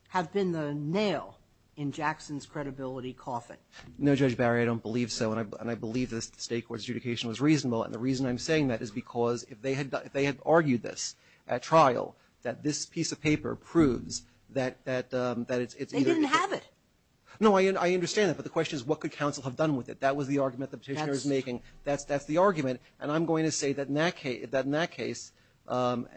have been the nail in Jackson's credibility coffin? No, Judge Barry, I don't believe so, and I believe the state court's adjudication was reasonable, and the reason I'm saying that is because if they had argued this at trial, that this piece of paper proves that it's either- They didn't have it. No, I understand that, but the question is, what could counsel have done with it? That was the argument the petitioner was making. That's the argument. And I'm going to say that in that case, and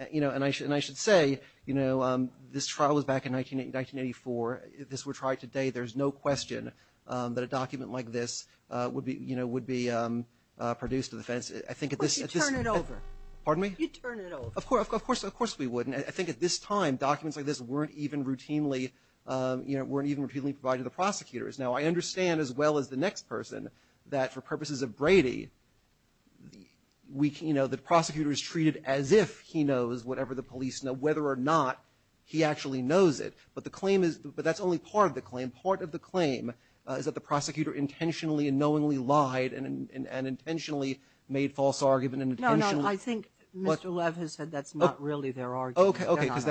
I should say, this trial was back in 1984. If this were tried today, there's no question that a document like this would be produced to the defense. You'd turn it over. Pardon me? You'd turn it over. Of course we would, and I think at this time, documents like this weren't even routinely provided to the prosecutors. Now, I understand, as well as the next person, that for purposes of Brady, the prosecutor is treated as if he knows whatever the police know, whether or not he actually knows it. But that's only part of the claim. Part of the claim is that the prosecutor intentionally and knowingly lied and intentionally made false arguments and intentionally- No, no, I think Mr. Levin said that's not really their argument. Okay, okay, because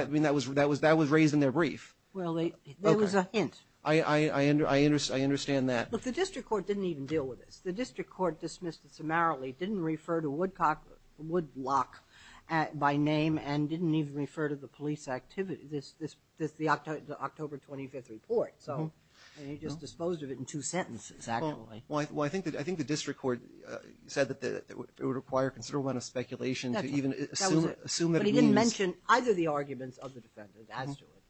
that was raised in their brief. Well, it was a hint. I understand that. But the district court didn't even deal with it. The district court dismissed it summarily, didn't refer to Woodcock, Woodblock by name, and didn't even refer to the police activity, the October 25th report. And he just disposed of it in two sentences, actually. Well, I think the district court said that it would require considerable amount of speculation to even assume it. But he didn't mention either the arguments of the defendants, actually,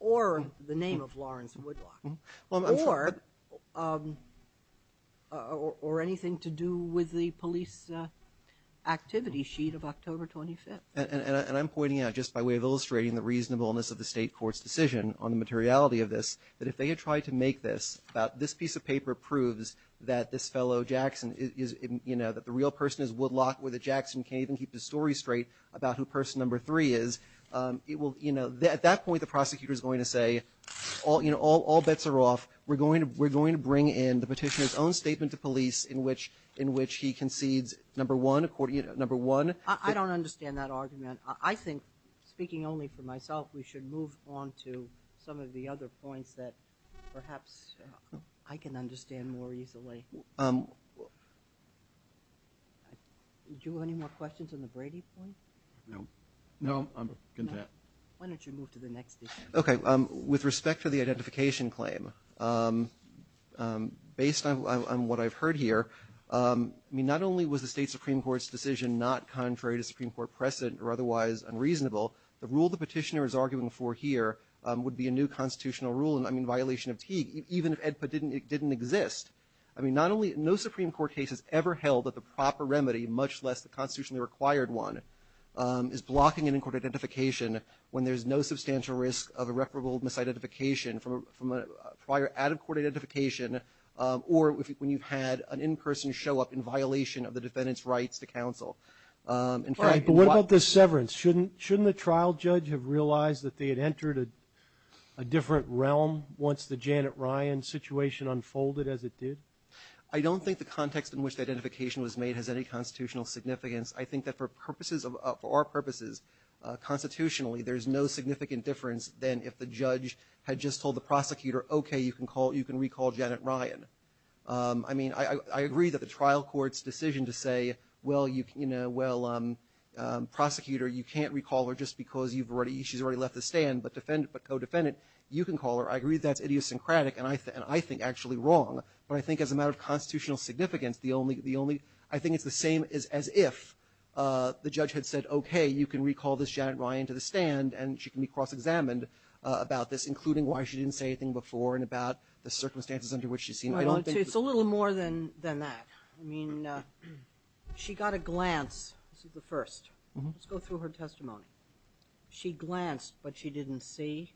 or the name of Lawrence Woodblock, or anything to do with the police activity sheet of October 25th. And I'm pointing out, just by way of illustrating the reasonableness of the state court's decision on the materiality of this, that if they had tried to make this, that this piece of paper proves that this fellow Jackson is, you know, that the real person is Woodlock where the Jackson can't even keep his story straight about who person number three is, at that point the prosecutor is going to say, you know, all bets are off. We're going to bring in the petitioner's own statement to police in which he concedes number one. I don't understand that argument. I think, speaking only for myself, we should move on to some of the other points that perhaps I can understand more easily. Do you have any more questions on the Brady point? No. No, I'm content. Why don't you move to the next issue? Okay. With respect to the identification claim, based on what I've heard here, I mean, not only was the state Supreme Court's decision not contrary to Supreme Court precedent or otherwise unreasonable, the rule the petitioner is arguing for here would be a new constitutional rule, I mean, violation of Teague, even if AEDPA didn't exist. I mean, not only no Supreme Court case has ever held that the proper remedy, much less the constitutionally required one, is blocking an in-court identification when there's no substantial risk of irreparable misidentification from prior added-court identification or when you've had an in-person show up in violation of the defendant's rights to counsel. But what about the severance? Shouldn't the trial judge have realized that they had entered a different realm once the Janet Ryan situation unfolded because it did? I don't think the context in which the identification was made has any constitutional significance. I think that for our purposes, constitutionally, there's no significant difference than if the judge had just told the prosecutor, okay, you can recall Janet Ryan. I mean, I agree that the trial court's decision to say, well, prosecutor, you can't recall her just because she's already left the stand, but co-defendant, you can call her, I agree that's idiosyncratic and I think actually wrong. But I think as a matter of constitutional significance, I think it's the same as if the judge had said, okay, you can recall this Janet Ryan to the stand and she can be cross-examined about this, including why she didn't say anything before and about the circumstances under which she's seen. It's a little more than that. I mean, she got a glance. This is the first. Let's go through her testimony. She glanced, but she didn't see.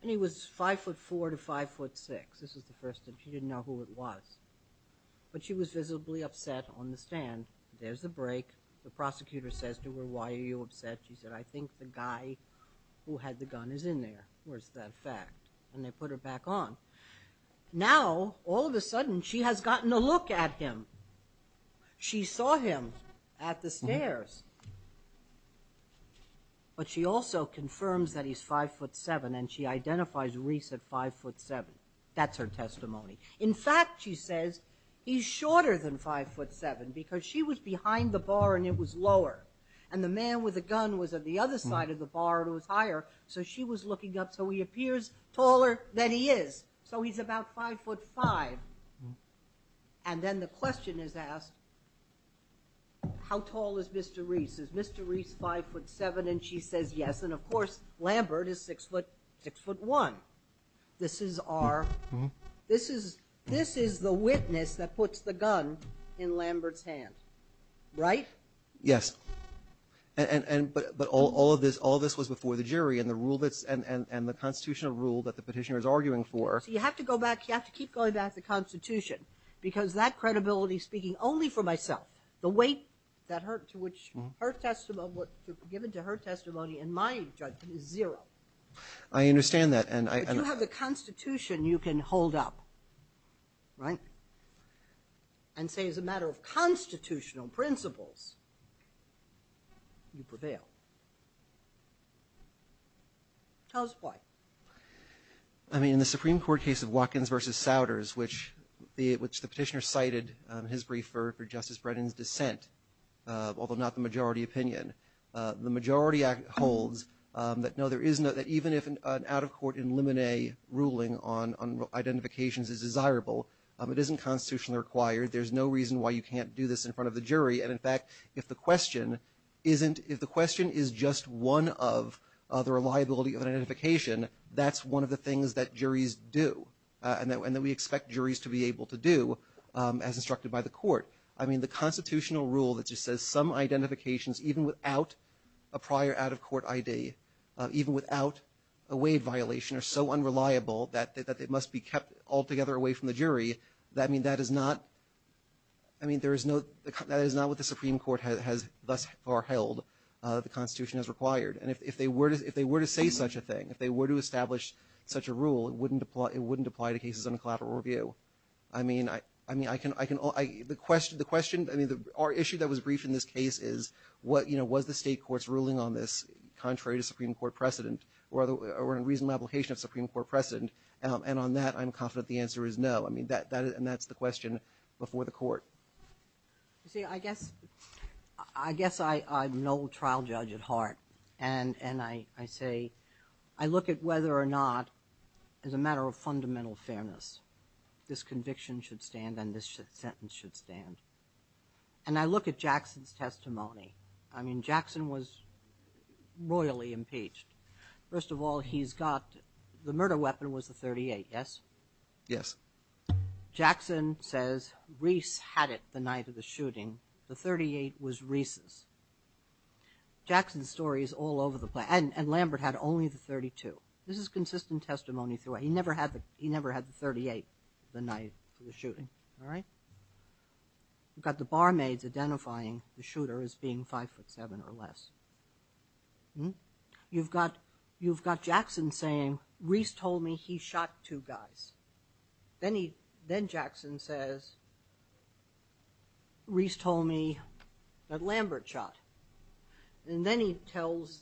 And he was 5'4 to 5'6. This is the first. She didn't know who it was. But she was visibly upset on the stand. There's the break. The prosecutor says to her, why are you upset? She said, I think the guy who had the gun is in there. Where's that fact? And they put her back on. Now, all of a sudden, she has gotten a look at him. She saw him at the stairs. But she also confirms that he's 5'7 and she identifies Reese at 5'7. That's her testimony. In fact, she says, he's shorter than 5'7 because she was behind the bar and it was lower. And the man with the gun was at the other side of the bar and it was higher. So she was looking up. So he appears taller than he is. So he's about 5'5. And then the question is asked, how tall is Mr. Reese? Is Mr. Reese 5'7? And she says, yes. And, of course, Lambert is 6'1. This is the witness that puts the gun in Lambert's hand. Right? Yes. But all of this was before the jury and the constitutional rule that the petitioner is arguing for. You have to keep going back to the Constitution because that credibility is speaking only for myself. The weight given to her testimony in my judgment is zero. I understand that. If you have the Constitution, you can hold up. Right? And say, as a matter of constitutional principles, you prevail. Tell us why. I mean, the Supreme Court case of Watkins v. Souders, which the petitioner cited in his brief for Justice Brennan's dissent, although not the majority opinion. The majority holds that even if an out-of-court in limine ruling on identifications is desirable, it isn't constitutionally required. There's no reason why you can't do this in front of the jury. And, in fact, if the question is just one of the reliability of an identification, that's one of the things that juries do, and that we expect juries to be able to do as instructed by the court. I mean, the constitutional rule that just says some identifications, even without a prior out-of-court ID, even without a waive violation, are so unreliable that it must be kept altogether away from the jury. I mean, that is not what the Supreme Court has thus far held the Constitution has required. And if they were to say such a thing, if they were to establish such a rule, it wouldn't apply to cases under collateral review. I mean, I can – the question – I mean, our issue that was briefed in this case is, you know, was the state court's ruling on this contrary to Supreme Court precedent, or a reasonable application of Supreme Court precedent? And on that, I'm confident the answer is no. I mean, and that's the question before the court. I guess I'm an old trial judge at heart, and I say – I look at whether or not, as a matter of fundamental fairness, this conviction should stand and this sentence should stand. And I look at Jackson's testimony. I mean, Jackson was royally impeached. First of all, he's got – the murder weapon was the 38, yes? Yes. Jackson says Reese had it the night of the shooting. The 38 was Reese's. Jackson's story is all over the place. And Lambert had only the 32. This is consistent testimony. He never had the 38 the night of the shooting, all right? You've got the barmaids identifying the shooter as being 5'7 or less. You've got Jackson saying, Reese told me he shot two guys. Then Jackson says, Reese told me that Lambert shot. And then he tells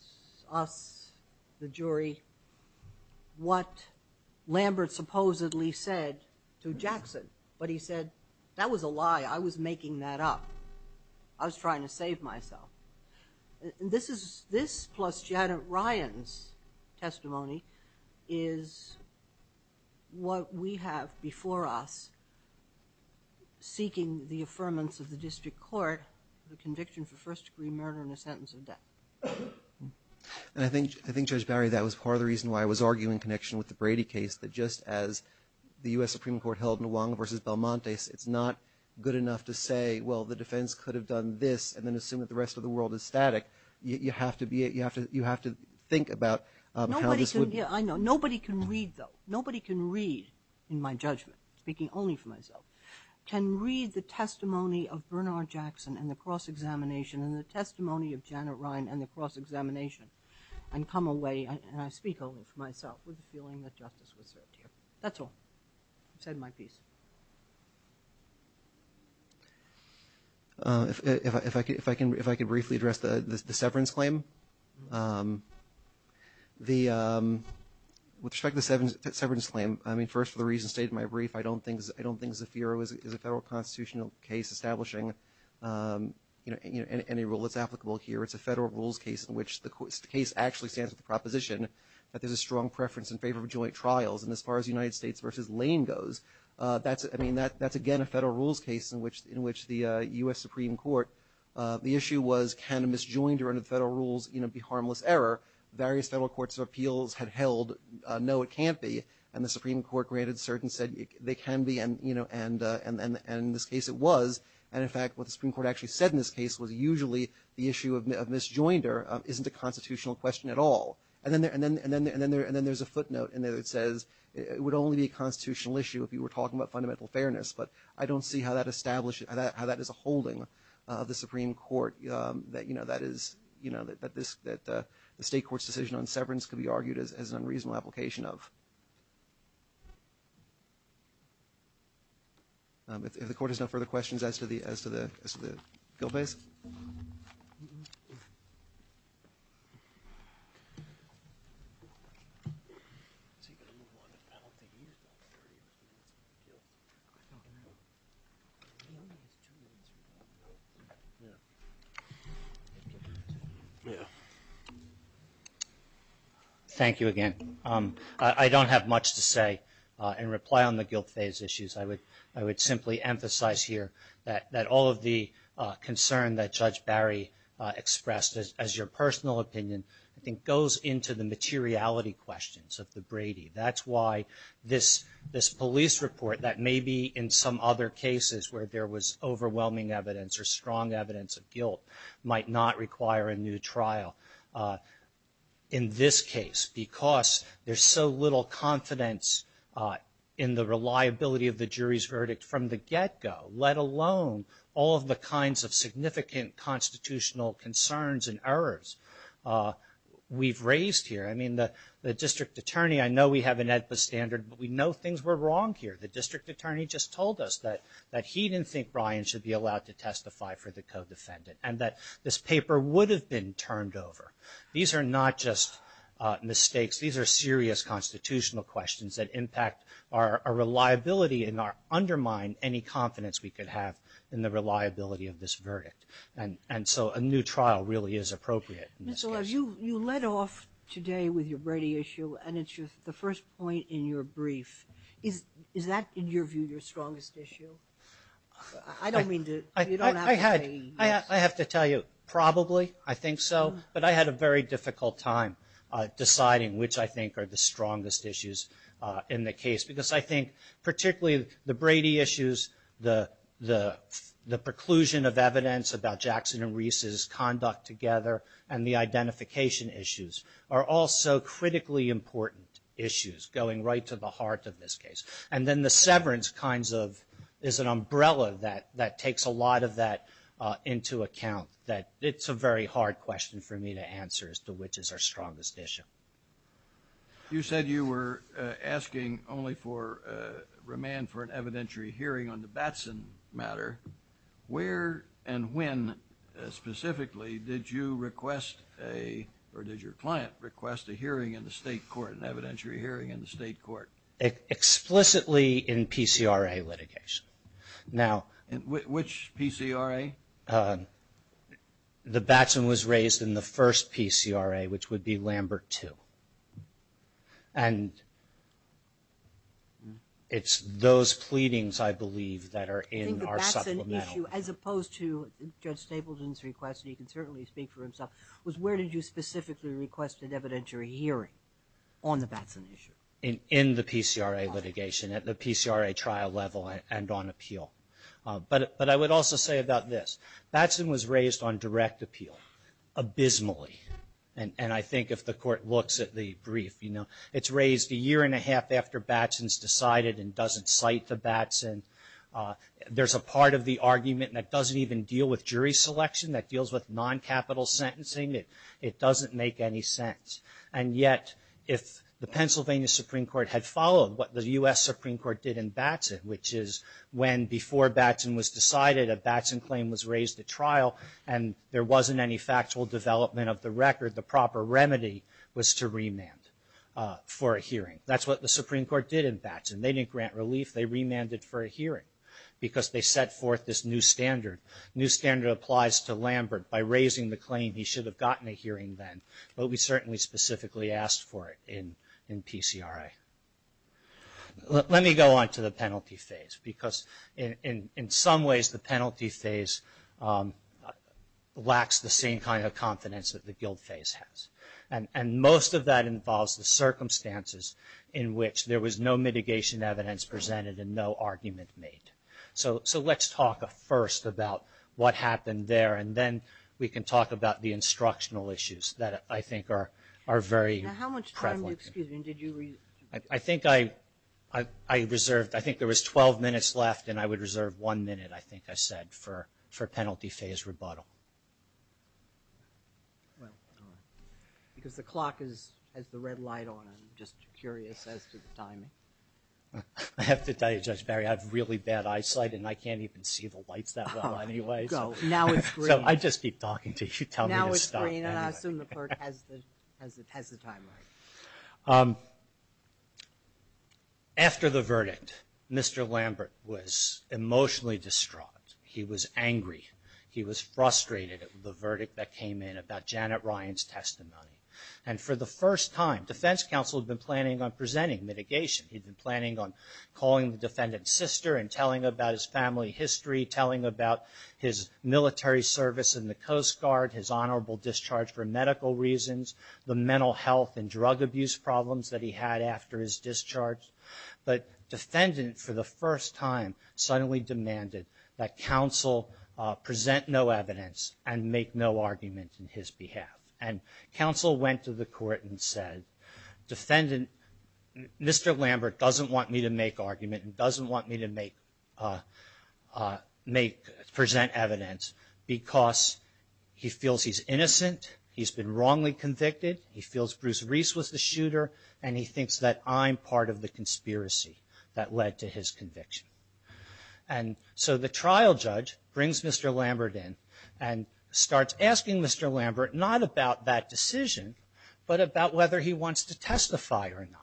us, the jury, what Lambert supposedly said to Jackson. But he said, that was a lie. I was making that up. I was trying to save myself. This plus Janet Ryan's testimony is what we have before us, seeking the affirmance of the district court, the conviction for first-degree murder and a sentence of death. And I think, Judge Barry, that was part of the reason why I was arguing in connection with the Brady case, that just as the U.S. Supreme Court held Nwange v. Balmontes, it's not good enough to say, well, the defense could have done this and then assume that the rest of the world is static. You have to think about how this would... Nobody can read, though. Nobody can read, in my judgment, speaking only for myself, can read the testimony of Bernard Jackson and the cross-examination and the testimony of Janet Ryan and the cross-examination and come away, and I speak only for myself, with a feeling that justice was served here. That's all. That's the end of my piece. If I could briefly address the severance claim. With respect to the severance claim, I mean, first, for the reason stated in my brief, I don't think the FIRA is a federal constitutional case establishing any rule that's applicable here. It's a federal rules case in which the case actually stands with the proposition that there's a strong preference in favor of joint trials. And as far as the United States v. Lane goes, I mean, that's, again, a federal rules case in which the U.S. Supreme Court, the issue was can a misjoinder in a federal rules be harmless error. Various federal courts of appeals had held no, it can't be. And the Supreme Court granted certain, said they can be, and in this case it was. And, in fact, what the Supreme Court actually said in this case was usually the issue of misjoinder isn't a constitutional question at all. And then there's a footnote in there that says it would only be a constitutional issue if you were talking about fundamental fairness. But I don't see how that establishes, how that is a holding of the Supreme Court that, you know, that is, you know, that the state court's decision on severance can be argued as an unreasonable application of. If the court has no further questions as to the bill, please. Thank you. Thank you again. I don't have much to say in reply on the guilt phase issues. I would simply emphasize here that all of the concern that Judge Barry expressed as your personal opinion I think goes into the materiality questions of the Brady. That's why this police report that maybe in some other cases where there was overwhelming evidence or strong evidence of guilt might not require a new trial in this case because there's so little confidence in the reliability of the jury's verdict from the get-go, let alone all of the kinds of significant constitutional concerns and errors we've raised here. I mean, the district attorney, I know we have an EDPA standard, but we know things were wrong here. The district attorney just told us that he didn't think Brian should be allowed to testify for the co-defendant and that this paper would have been turned over. These are not just mistakes. These are serious constitutional questions that impact our reliability and undermine any confidence we could have in the reliability of this verdict. And so a new trial really is appropriate. You led off today with your Brady issue, and it's the first point in your brief. Is that, in your view, your strongest issue? I don't mean to— I have to tell you, probably I think so, but I had a very difficult time deciding which I think are the strongest issues in the case because I think particularly the Brady issues, the preclusion of evidence about Jackson and Reese's conduct together, and the identification issues are also critically important issues going right to the heart of this case. And then the severance kind of is an umbrella that takes a lot of that into account, that it's a very hard question for me to answer as to which is our strongest issue. You said you were asking only for remand for an evidentiary hearing on the Batson matter. Where and when specifically did you request a— or did your client request a hearing in the state court, an evidentiary hearing in the state court? Explicitly in PCRA litigation. Now— Which PCRA? The Batson was raised in the first PCRA, which would be Lambert 2. And it's those pleadings, I believe, that are in our supplemental— I think the Batson issue, as opposed to Judge Stapleton's request, and he can certainly speak for himself, was where did you specifically request an evidentiary hearing on the Batson issue? In the PCRA litigation, at the PCRA trial level and on appeal. But I would also say about this, Batson was raised on direct appeal, abysmally. And I think if the court looks at the brief, you know, it's raised a year and a half after Batson's decided and doesn't cite the Batson. There's a part of the argument that doesn't even deal with jury selection, that deals with non-capital sentencing. It doesn't make any sense. And yet, if the Pennsylvania Supreme Court had followed what the U.S. Supreme Court did in Batson, which is when, before Batson was decided, a Batson claim was raised at trial and there wasn't any factual development of the record, the proper remedy was to remand for a hearing. That's what the Supreme Court did in Batson. They didn't grant relief. They remanded for a hearing because they set forth this new standard. New standard applies to Lambert. By raising the claim, he should have gotten a hearing then. But we certainly specifically asked for it in PCRA. Let me go on to the penalty phase, because in some ways the penalty phase lacks the same kind of confidence that the guilt phase has. And most of that involves the circumstances in which there was no mitigation evidence presented and no argument made. So let's talk first about what happened there, and then we can talk about the instructional issues that I think are very prevalent. Now, how much time, excuse me, did you? I think I reserved, I think there was 12 minutes left, and I would reserve one minute, I think I said, for penalty phase rebuttal. Because the clock has the red light on it. I'm just curious as to the timing. I have to tell you, Judge Barry, I have really bad eyesight, and I can't even see the light that well anyway. Now it's green. I just keep talking to you. Tell me to stop. Well, you know, I assume the court has the timeline. After the verdict, Mr. Lambert was emotionally distraught. He was angry. He was frustrated at the verdict that came in about Janet Ryan's testimony. And for the first time, defense counsel had been planning on presenting mitigation. He'd been planning on calling the defendant's sister and telling about his family history, telling about his military service in the Coast Guard, his honorable discharge for medical reasons, the mental health and drug abuse problems that he had after his discharge. But the defendant, for the first time, suddenly demanded that counsel present no evidence and make no argument on his behalf. And counsel went to the court and said, Mr. Lambert doesn't want me to make argument and doesn't want me to present evidence because he feels he's innocent, he's been wrongly convicted, he feels Bruce Reese was the shooter, and he thinks that I'm part of the conspiracy that led to his conviction. And so the trial judge brings Mr. Lambert in and starts asking Mr. Lambert not about that decision, but about whether he wants to testify or not.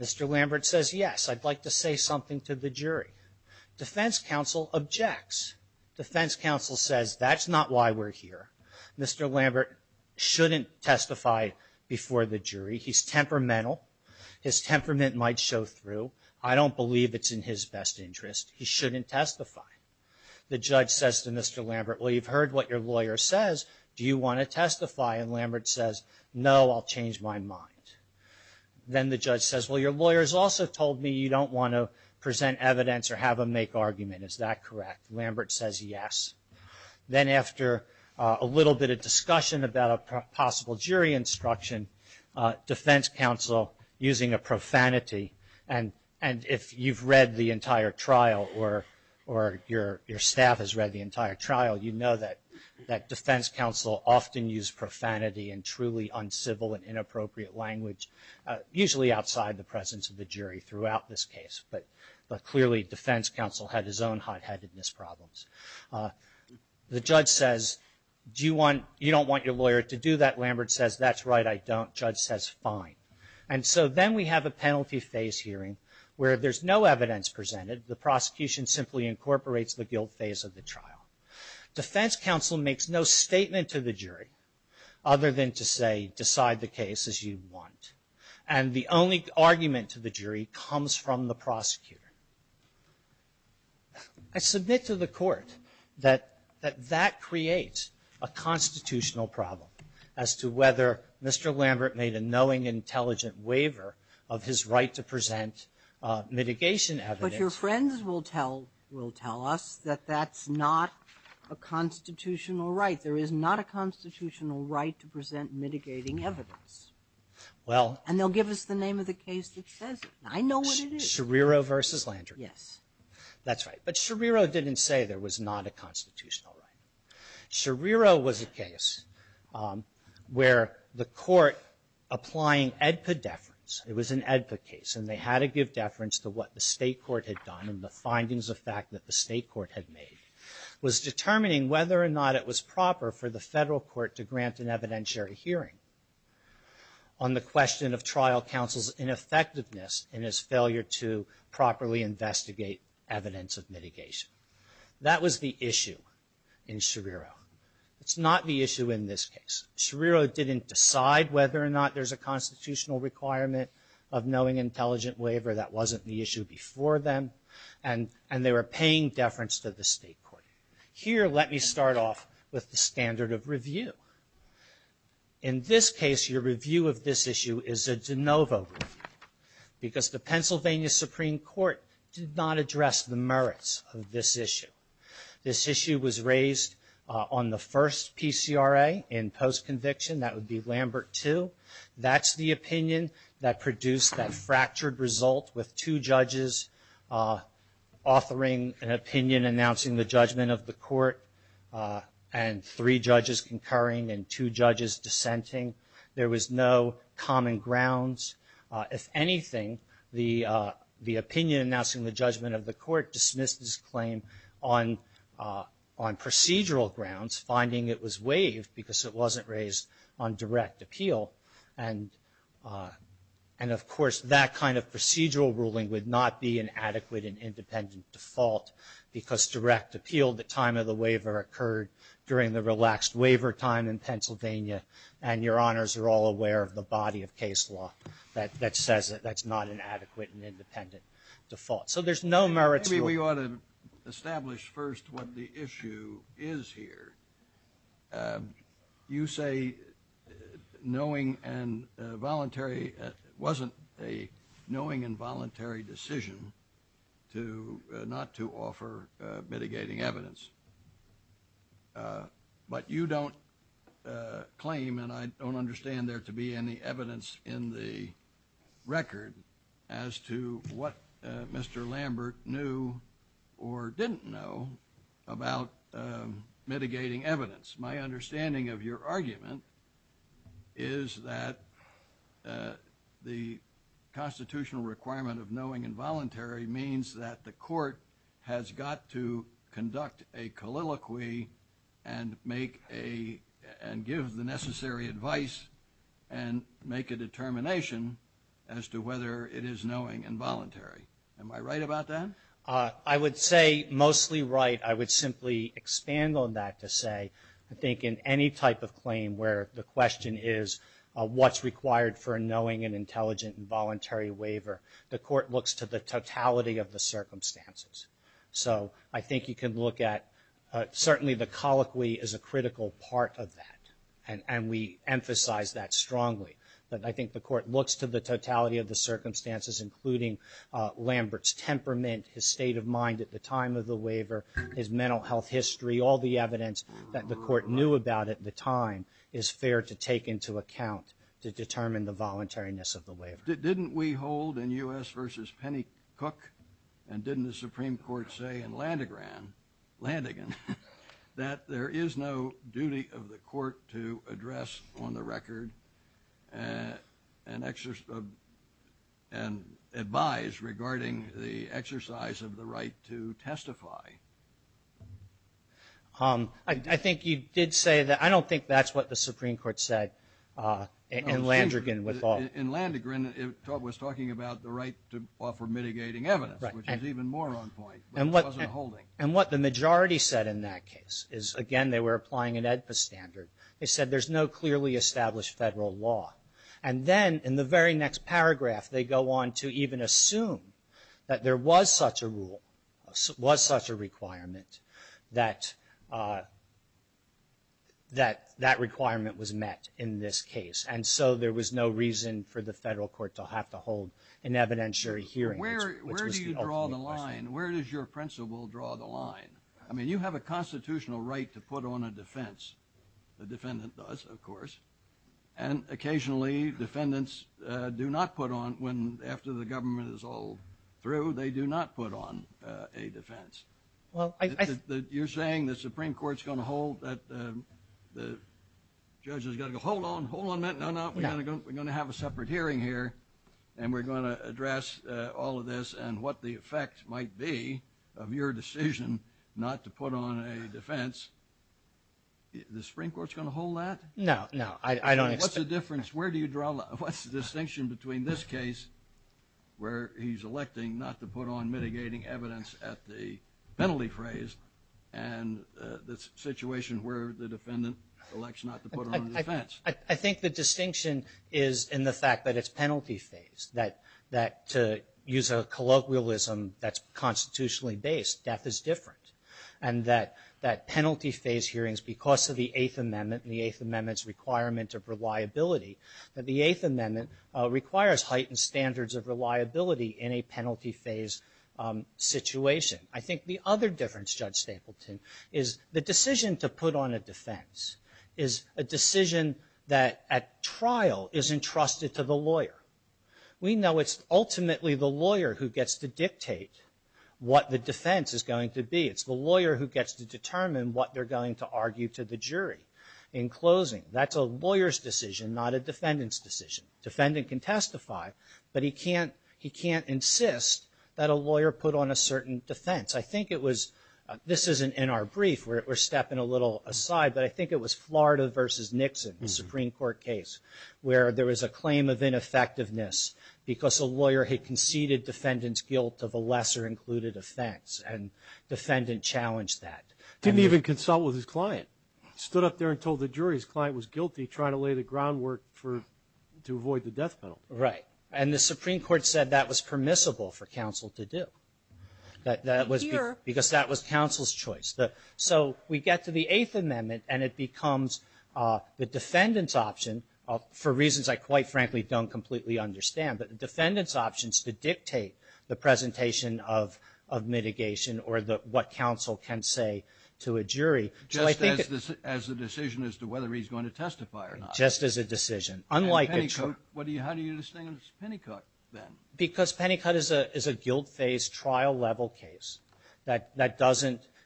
Mr. Lambert says, yes, I'd like to say something to the jury. Defense counsel objects. Defense counsel says, that's not why we're here. Mr. Lambert shouldn't testify before the jury. He's temperamental. His temperament might show through. I don't believe it's in his best interest. He shouldn't testify. The judge says to Mr. Lambert, well, you've heard what your lawyer says. Do you want to testify? And Lambert says, no, I'll change my mind. Then the judge says, well, your lawyer has also told me you don't want to present evidence or have him make argument. Is that correct? Lambert says, yes. Then after a little bit of discussion about a possible jury instruction, defense counsel, using a profanity, and if you've read the entire trial or your staff has read the entire trial, you know that defense counsel often use profanity and truly uncivil and inappropriate language, usually outside the presence of the jury throughout this case. But clearly defense counsel has his own hot-headedness problems. The judge says, you don't want your lawyer to do that. Lambert says, that's right, I don't. Judge says, fine. And so then we have a penalty phase hearing where if there's no evidence presented, the prosecution simply incorporates the guilt phase of the trial. Defense counsel makes no statement to the jury other than to say, decide the case as you want. And the only argument to the jury comes from the prosecutor. It's a bit to the court that that creates a constitutional problem as to whether Mr. Lambert made a knowing, intelligent waiver of his right to present mitigation evidence. But your friends will tell us that that's not a constitutional right. There is not a constitutional right to present mitigating evidence. And they'll give us the name of the case that says it. I know what it is. Scherrero v. Landry. Yes. That's right. But Scherrero didn't say there was not a constitutional right. Scherrero was a case where the court applying AEDPA deference, it was an AEDPA case, and they had to give deference to what the state court had done and the findings of fact that the state court had made, was determining whether or not it was proper for the federal court to grant an evidentiary hearing on the question of trial counsel's ineffectiveness in his failure to properly investigate evidence of mitigation. That was the issue in Scherrero. It's not the issue in this case. Scherrero didn't decide whether or not there's a constitutional requirement of knowing intelligent waiver. That wasn't the issue before then. And they were paying deference to the state court. Here, let me start off with the standard of review. In this case, your review of this issue is a de novo review because the Pennsylvania Supreme Court did not address the merits of this issue. This issue was raised on the first PCRA in post-conviction. That would be Lambert II. That's the opinion that produced that fractured result with two judges offering an opinion announcing the judgment of the court and three judges concurring and two judges dissenting. There was no common grounds. If anything, the opinion announcing the judgment of the court dismissed this claim on procedural grounds, finding it was waived because it wasn't raised on direct appeal. And, of course, that kind of procedural ruling would not be an adequate and independent default because direct appeal at the time of the waiver occurred during the relaxed waiver time in Pennsylvania, and your honors are all aware of the body of case law that says that that's not an adequate and independent default. So there's no merits. Maybe we ought to establish first what the issue is here. You say it wasn't a knowing and voluntary decision not to offer mitigating evidence, but you don't claim, and I don't understand there to be any evidence in the record, as to what Mr. Lambert knew or didn't know about mitigating evidence. My understanding of your argument is that the constitutional requirement of knowing and voluntary means that the court has got to conduct a colloquy and give the necessary advice and make a determination as to whether it is knowing and voluntary. Am I right about that? I would say mostly right. I would simply expand on that to say I think in any type of claim where the question is what's required for a knowing and intelligent and voluntary waiver, the court looks to the totality of the circumstances. So I think you can look at certainly the colloquy is a critical part of that, and we emphasize that strongly. But I think the court looks to the totality of the circumstances, including Lambert's temperament, his state of mind at the time of the waiver, his mental health history, all the evidence that the court knew about at the time, is fair to take into account to determine the voluntariness of the waiver. Didn't we hold in U.S. v. Penny Cook, and didn't the Supreme Court say in Landegan, that there is no duty of the court to address on the record and advise regarding the exercise of the right to testify? I think you did say that. I don't think that's what the Supreme Court said in Landegan. In Landegan it was talking about the right to offer mitigating evidence, which is even more on point, but it wasn't holding. And what the majority said in that case is, again, they were applying it at the standard. They said there's no clearly established federal law. And then in the very next paragraph they go on to even assume that there was such a rule, was such a requirement, that that requirement was met in this case. And so there was no reason for the federal court to have to hold an evidentiary hearing. Where do you draw the line? Where does your principle draw the line? I mean, you have a constitutional right to put on a defense. A defendant does, of course. And occasionally defendants do not put on, after the government is all through, they do not put on a defense. You're saying the Supreme Court's going to hold that the judge has got to go, hold on, hold on a minute, no, no, we're going to have a separate hearing here, and we're going to address all of this and what the effect might be of your decision not to put on a defense. The Supreme Court's going to hold that? No, no, I don't think so. What's the difference? Where do you draw the line? What's the distinction between this case where he's electing not to put on mitigating evidence at the penalty phrase and the situation where the defendant elects not to put on a defense? I think the distinction is in the fact that it's penalty phase, that to use a colloquialism that's constitutionally based, death is different, and that penalty phase hearings, because of the Eighth Amendment and the Eighth Amendment's requirement of reliability, that the Eighth Amendment requires heightened standards of reliability in a penalty phase situation. I think the other difference, Judge Stapleton, is the decision to put on a defense is a decision that at trial is entrusted to the lawyer. We know it's ultimately the lawyer who gets to dictate what the defense is going to be. It's the lawyer who gets to determine what they're going to argue to the jury in closing. That's a lawyer's decision, not a defendant's decision. Defendant can testify, but he can't insist that a lawyer put on a certain defense. I think it was, this isn't in our brief, we're stepping a little aside, but I think it was Florida v. Nixon, the Supreme Court case, where there was a claim of ineffectiveness because a lawyer had conceded defendant's guilt of a lesser included offense, and defendant challenged that. Didn't even consult with his client. Stood up there and told the jury his client was guilty, trying to lay the groundwork to avoid the death penalty. Right, and the Supreme Court said that was permissible for counsel to do. Here. Because that was counsel's choice. So we get to the Eighth Amendment, and it becomes the defendant's option, for reasons I quite frankly don't completely understand, but the defendant's option is to dictate the presentation of mitigation or what counsel can say to a jury. Just as a decision as to whether he's going to testify or not. Just as a decision. How do you distinguish Pennycook then? Because Pennycook is a guilt-based trial-level case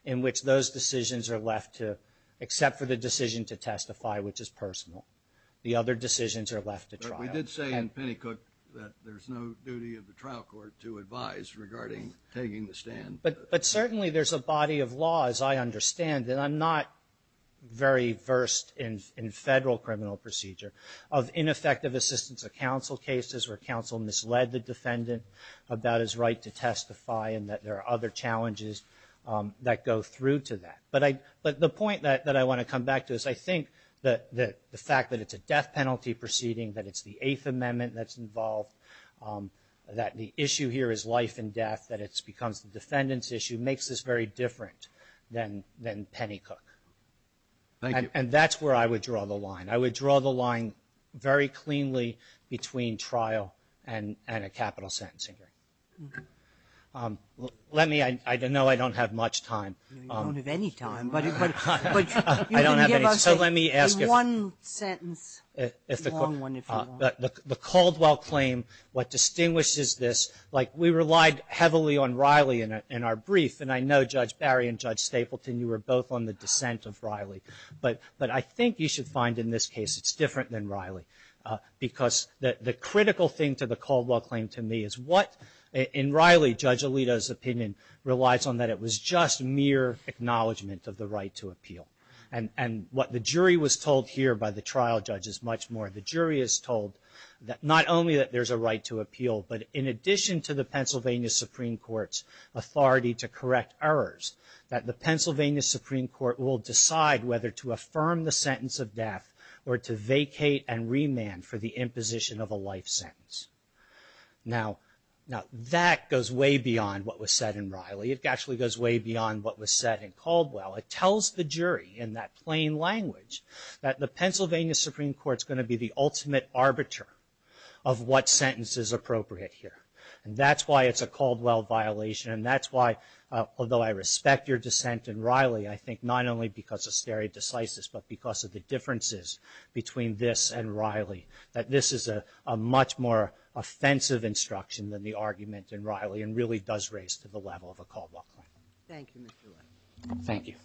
in which those decisions are left to, except for the decision to testify, which is personal, the other decisions are left to trial. But we did say in Pennycook that there's no duty of the trial court to advise regarding taking the stand. But certainly there's a body of law, as I understand, and I'm not very versed in federal criminal procedure, of ineffective assistance of counsel cases where counsel misled the defendant about his right to testify and that there are other challenges that go through to that. But the point that I want to come back to is I think the fact that it's a death penalty proceeding, that it's the Eighth Amendment that's involved, that the issue here is life and death, that it becomes the defendant's issue, makes this very different than Pennycook. And that's where I would draw the line. I would draw the line very cleanly between trial and a capital sentencing. Let me, I know I don't have much time. You don't have any time. But you can give us one sentence, a long one if you want. The Caldwell claim, what distinguishes this, like we relied heavily on Riley in our brief, and I know Judge Barry and Judge Stapleton, you were both on the dissent of Riley. But I think you should find in this case it's different than Riley because the critical thing to the Caldwell claim to me is what, in Riley, Judge Alito's opinion relies on that it was just mere acknowledgement of the right to appeal. And what the jury was told here by the trial judge is much more. The jury is told that not only that there's a right to appeal, but in addition to the Pennsylvania Supreme Court's authority to correct errors, that the Pennsylvania Supreme Court will decide whether to affirm the sentence of death or to vacate and remand for the imposition of a life sentence. Now, that goes way beyond what was said in Riley. It actually goes way beyond what was said in Caldwell. It tells the jury in that plain language that the Pennsylvania Supreme Court's going to be the ultimate arbiter of what sentence is appropriate here. And that's why it's a Caldwell violation. And that's why, although I respect your dissent in Riley, I think not only because of stare decisis, but because of the differences between this and Riley, that this is a much more offensive instruction than the argument in Riley and really does raise to the level of a Caldwell. Thank you, Mr. Lynch. Thank you.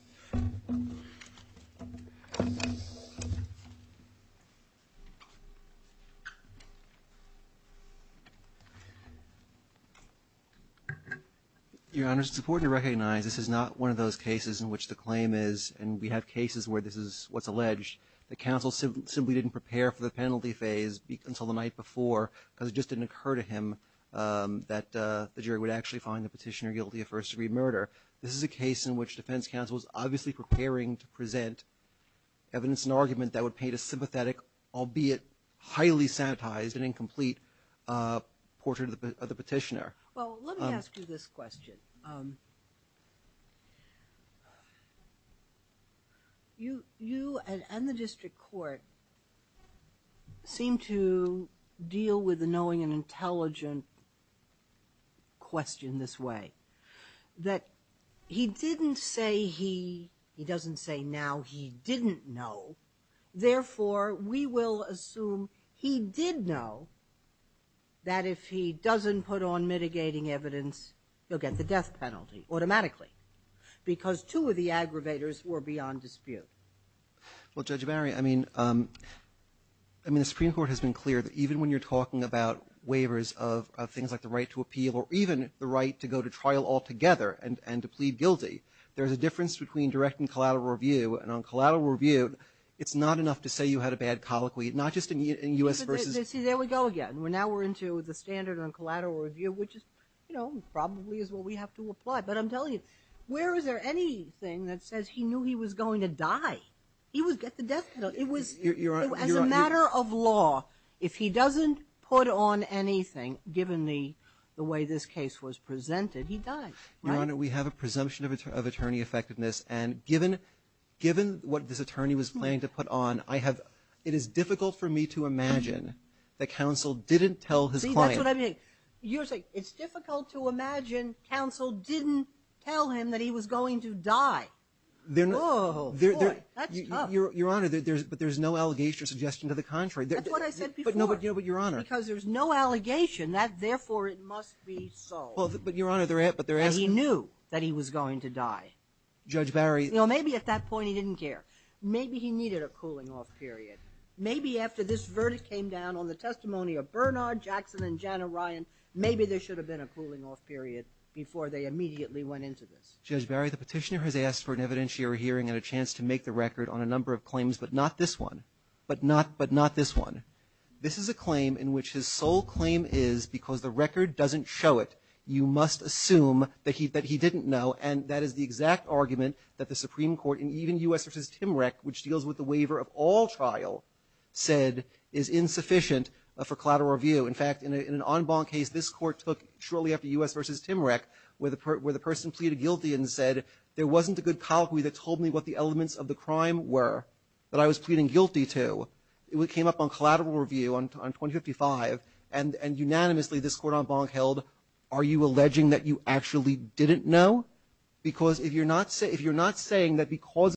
Your Honor, it's important to recognize this is not one of those cases in which the claim is, and we have cases where this is what's alleged. The counsel simply didn't prepare for the penalty phase until the night before because it just didn't occur to him that the jury would actually find the petitioner guilty of first-degree murder. This is a case in which defense counsel is obviously preparing to present evidence and argument that would paint a sympathetic, albeit highly sanitized and incomplete portrait of the petitioner. Well, let me ask you this question. You and the district court seem to deal with the knowing and intelligent question this way, that he didn't say he doesn't say now he didn't know. Therefore, we will assume he did know that if he doesn't put on mitigating evidence, he'll get the death penalty automatically because two of the aggravators were beyond dispute. Well, Judge Barry, I mean, the Supreme Court has been clear that even when you're talking about waivers of things like the right to appeal or even the right to go to trial altogether and to plead guilty, there's a difference between direct and collateral review. And on collateral review, it's not enough to say you had a bad colloquy, not just in U.S. versus. See, there we go again. Now we're into the standard of collateral review, which is, you know, probably is what we have to apply. But I'm telling you, where is there anything that says he knew he was going to die? He would get the death penalty. As a matter of law, if he doesn't put on anything, given the way this case was presented, he dies. Your Honor, we have a presumption of attorney effectiveness. And given what this attorney was planning to put on, it is difficult for me to imagine that counsel didn't tell his client. See, that's what I mean. You're saying it's difficult to imagine counsel didn't tell him that he was going to die. Oh, boy, that's tough. Your Honor, but there's no allegation or suggestion to the contrary. That's what I said before. No, but, Your Honor. Because there's no allegation that, therefore, it must be so. He knew that he was going to die. Judge Barry. You know, maybe at that point he didn't care. Maybe he needed a cooling-off period. Maybe after this verdict came down on the testimony of Bernard, Jackson, and Janet Ryan, maybe there should have been a cooling-off period before they immediately went into this. Judge Barry, the petitioner has asked for an evidentiary hearing and a chance to make the record on a number of claims, but not this one. But not this one. This is a claim in which his sole claim is because the record doesn't show it, you must assume that he didn't know. And that is the exact argument that the Supreme Court, and even U.S. v. Timrec, which deals with the waiver of all trial, said is insufficient for collateral review. In fact, in an en banc case this court took shortly after U.S. v. Timrec where the person pleaded guilty and said there wasn't a good colleague that told me what the elements of the crime were that I was pleading guilty to. It came up on collateral review on 2055, and unanimously this court en banc held, are you alleging that you actually didn't know? Because if you're not saying that because...